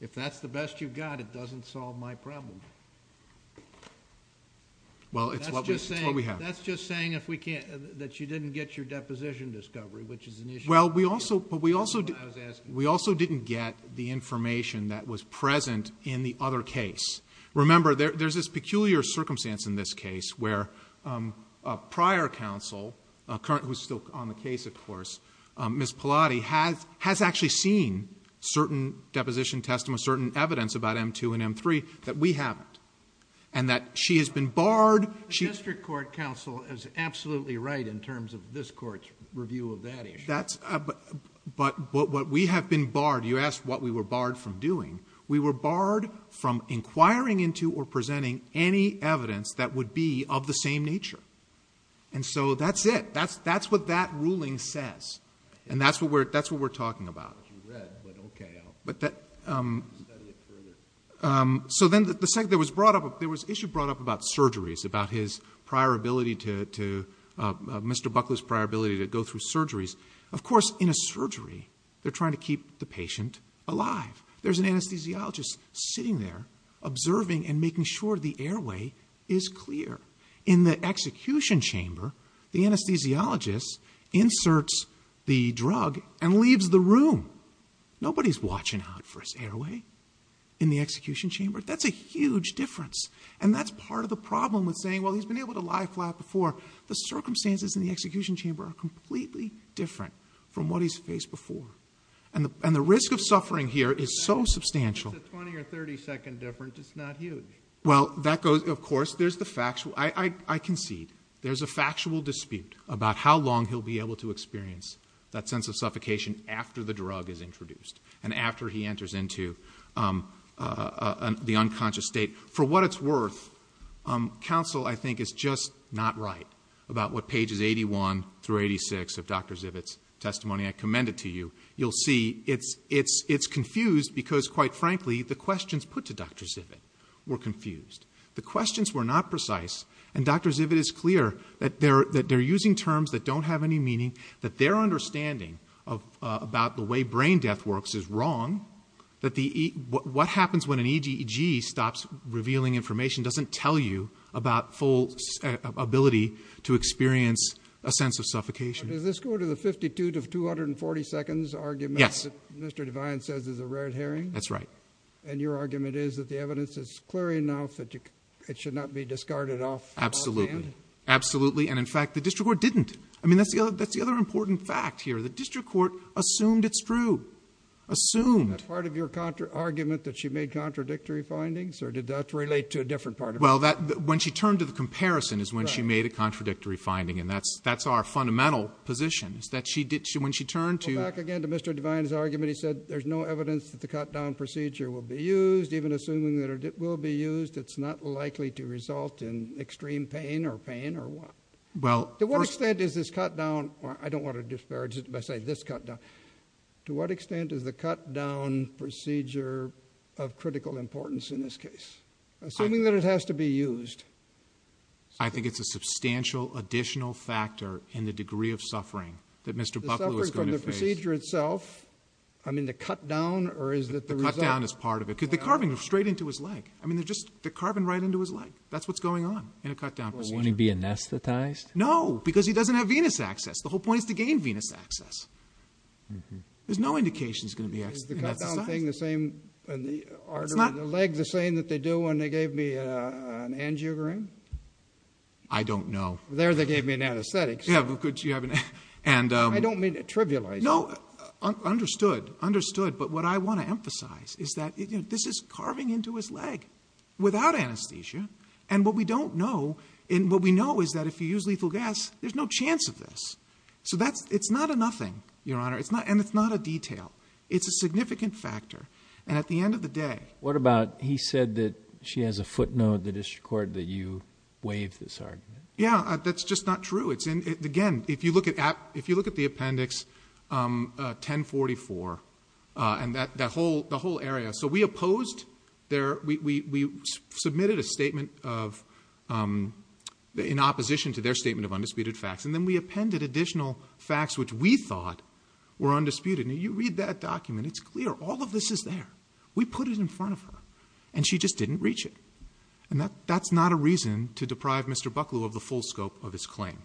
If that's the best you've got, it doesn't solve my problem. Well, it's what we have. That's just saying if we can't... That you didn't get your deposition discovery, which is an issue... Well, we also... That's what I was asking. We also didn't get the information that was present in the other case. Remember, there's this peculiar circumstance in this case where a prior counsel, who's still on the case, of course, Ms. Pallotti, has actually seen certain deposition testimony, certain evidence about M2 and M3 that we haven't. And that she has been barred... The district court counsel is absolutely right in terms of this court's review of that issue. But what we have been barred... You asked what we were barred from doing. We were barred from inquiring into or presenting any evidence that would be of the same nature. And so, that's it. That's what that ruling says. And that's what we're talking about. You read, but okay. But that... Study it further. So then, the second... There was an issue brought up about surgeries, about his prior ability to... Mr. Buckley's prior ability to go through surgeries. Of course, in a surgery, they're trying to keep the patient alive. There's an anesthesiologist sitting there, observing and making sure the airway is clear. In the execution chamber, the anesthesiologist inserts the drug and leaves the room. Nobody's watching out for his airway in the execution chamber. That's a huge difference. And that's part of the problem with saying, well, he's been able to lie flat before. The circumstances in the execution chamber are completely different from what he's faced before. And the risk of suffering here is so substantial... It's a 20 or 30 second difference. It's not huge. Well, that goes... Of course, there's the factual... I concede. There's a factual dispute about how long he'll be able to experience that sense of suffocation after the drug is introduced. And after he enters into the unconscious state. For what it's worth, counsel, I think, is just not right about what pages 81 through 86 of Dr. Zivit's testimony. I commend it to you. You'll see it's confused because, quite frankly, the questions put to Dr. Zivit were confused. The questions were not precise. And Dr. Zivit is clear that they're using terms that don't have any meaning. That their understanding about the way brain death works is wrong. That what happens when an EGEG stops revealing information doesn't tell you about full ability to experience a sense of suffocation. Does this go to the 52 to 240 seconds argument... Yes.... that Mr. Devine says is a red herring? That's right. And your argument is that the evidence is clear enough that it should not be discarded off hand? Absolutely. Absolutely. And, in fact, the district court didn't. I mean, that's the other important fact here. The district court assumed it's true. Assumed. Is that part of your argument that she made contradictory findings or did that relate to a different part of it? Well, when she turned to the comparison is when she made a contradictory finding. And that's our fundamental position is that when she turned to... Well, back again to Mr. Devine's argument. He said there's no evidence that the cut-down procedure will be used. Even assuming that it will be used, it's not likely to result in extreme pain or pain or what? Well... To what extent is this cut-down... I don't want to disparage it by saying this cut-down. To what extent is the cut-down procedure of critical importance in this case? Assuming that it has to be used. I think it's a substantial additional factor in the degree of suffering that Mr. Buckley was going to face. The suffering from the procedure itself? I mean, the cut-down or is it the result? The cut-down is part of it because they're carving straight into his leg. I mean, they're just... they're carving right into his leg. That's what's going on in a cut-down procedure. Won't he be anesthetized? No, because he doesn't have venous access. The whole point is to gain venous access. There's no indication he's going to be anesthetized. Is the cut-down thing the same in the artery, the leg, the same that they do when they gave me an angiogram? I don't know. There they gave me an anesthetic. Yeah, but could you have an... I don't mean to trivialize it. No, understood, understood. But what I want to emphasize is that this is carving into his leg without anesthesia. And what we don't know... what we know is that if you use lethal gas, there's no chance of this. So that's... it's not a nothing, Your Honor, and it's not a detail. It's a significant factor. And at the end of the day... What about he said that she has a footnote in the district court that you waived this argument? Yeah, that's just not true. Again, if you look at the appendix 1044 and the whole area... So we opposed their... we submitted a statement of... in opposition to their statement of undisputed facts. And then we appended additional facts which we thought were undisputed. Now, you read that document. It's clear. All of this is there. We put it in front of her. And she just didn't reach it. And that's not a reason to deprive Mr. Bucklew of the full scope of his claim.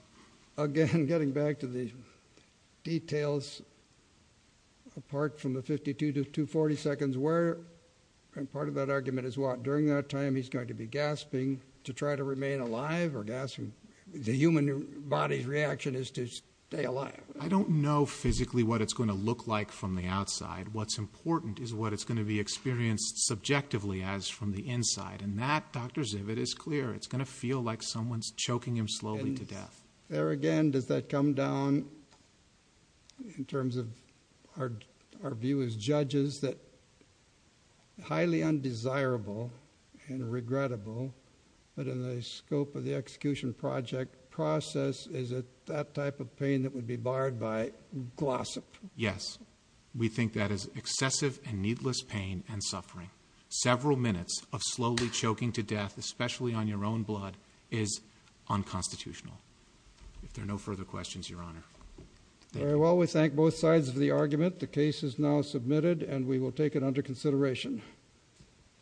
Again, getting back to the details, apart from the 52 to 240 seconds where... And part of that argument is what? During that time, he's going to be gasping to try to remain alive or gasping... The human body's reaction is to stay alive. I don't know physically what it's going to look like from the outside. What's important is what it's going to be experienced subjectively as from the inside. And that, Dr. Zivit, is clear. It's going to feel like someone's choking him slowly to death. There again, does that come down in terms of our view as judges that highly undesirable and regrettable... But in the scope of the execution project process, is it that type of pain that would be barred by glossop? Yes. We think that is excessive and needless pain and suffering. Several minutes of slowly choking to death, especially on your own blood, is unconstitutional. If there are no further questions, Your Honor. Very well. We thank both sides of the argument. The case is now submitted and we will take it under consideration.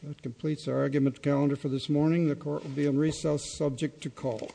That completes our argument calendar for this morning. The court will be in recess subject to call.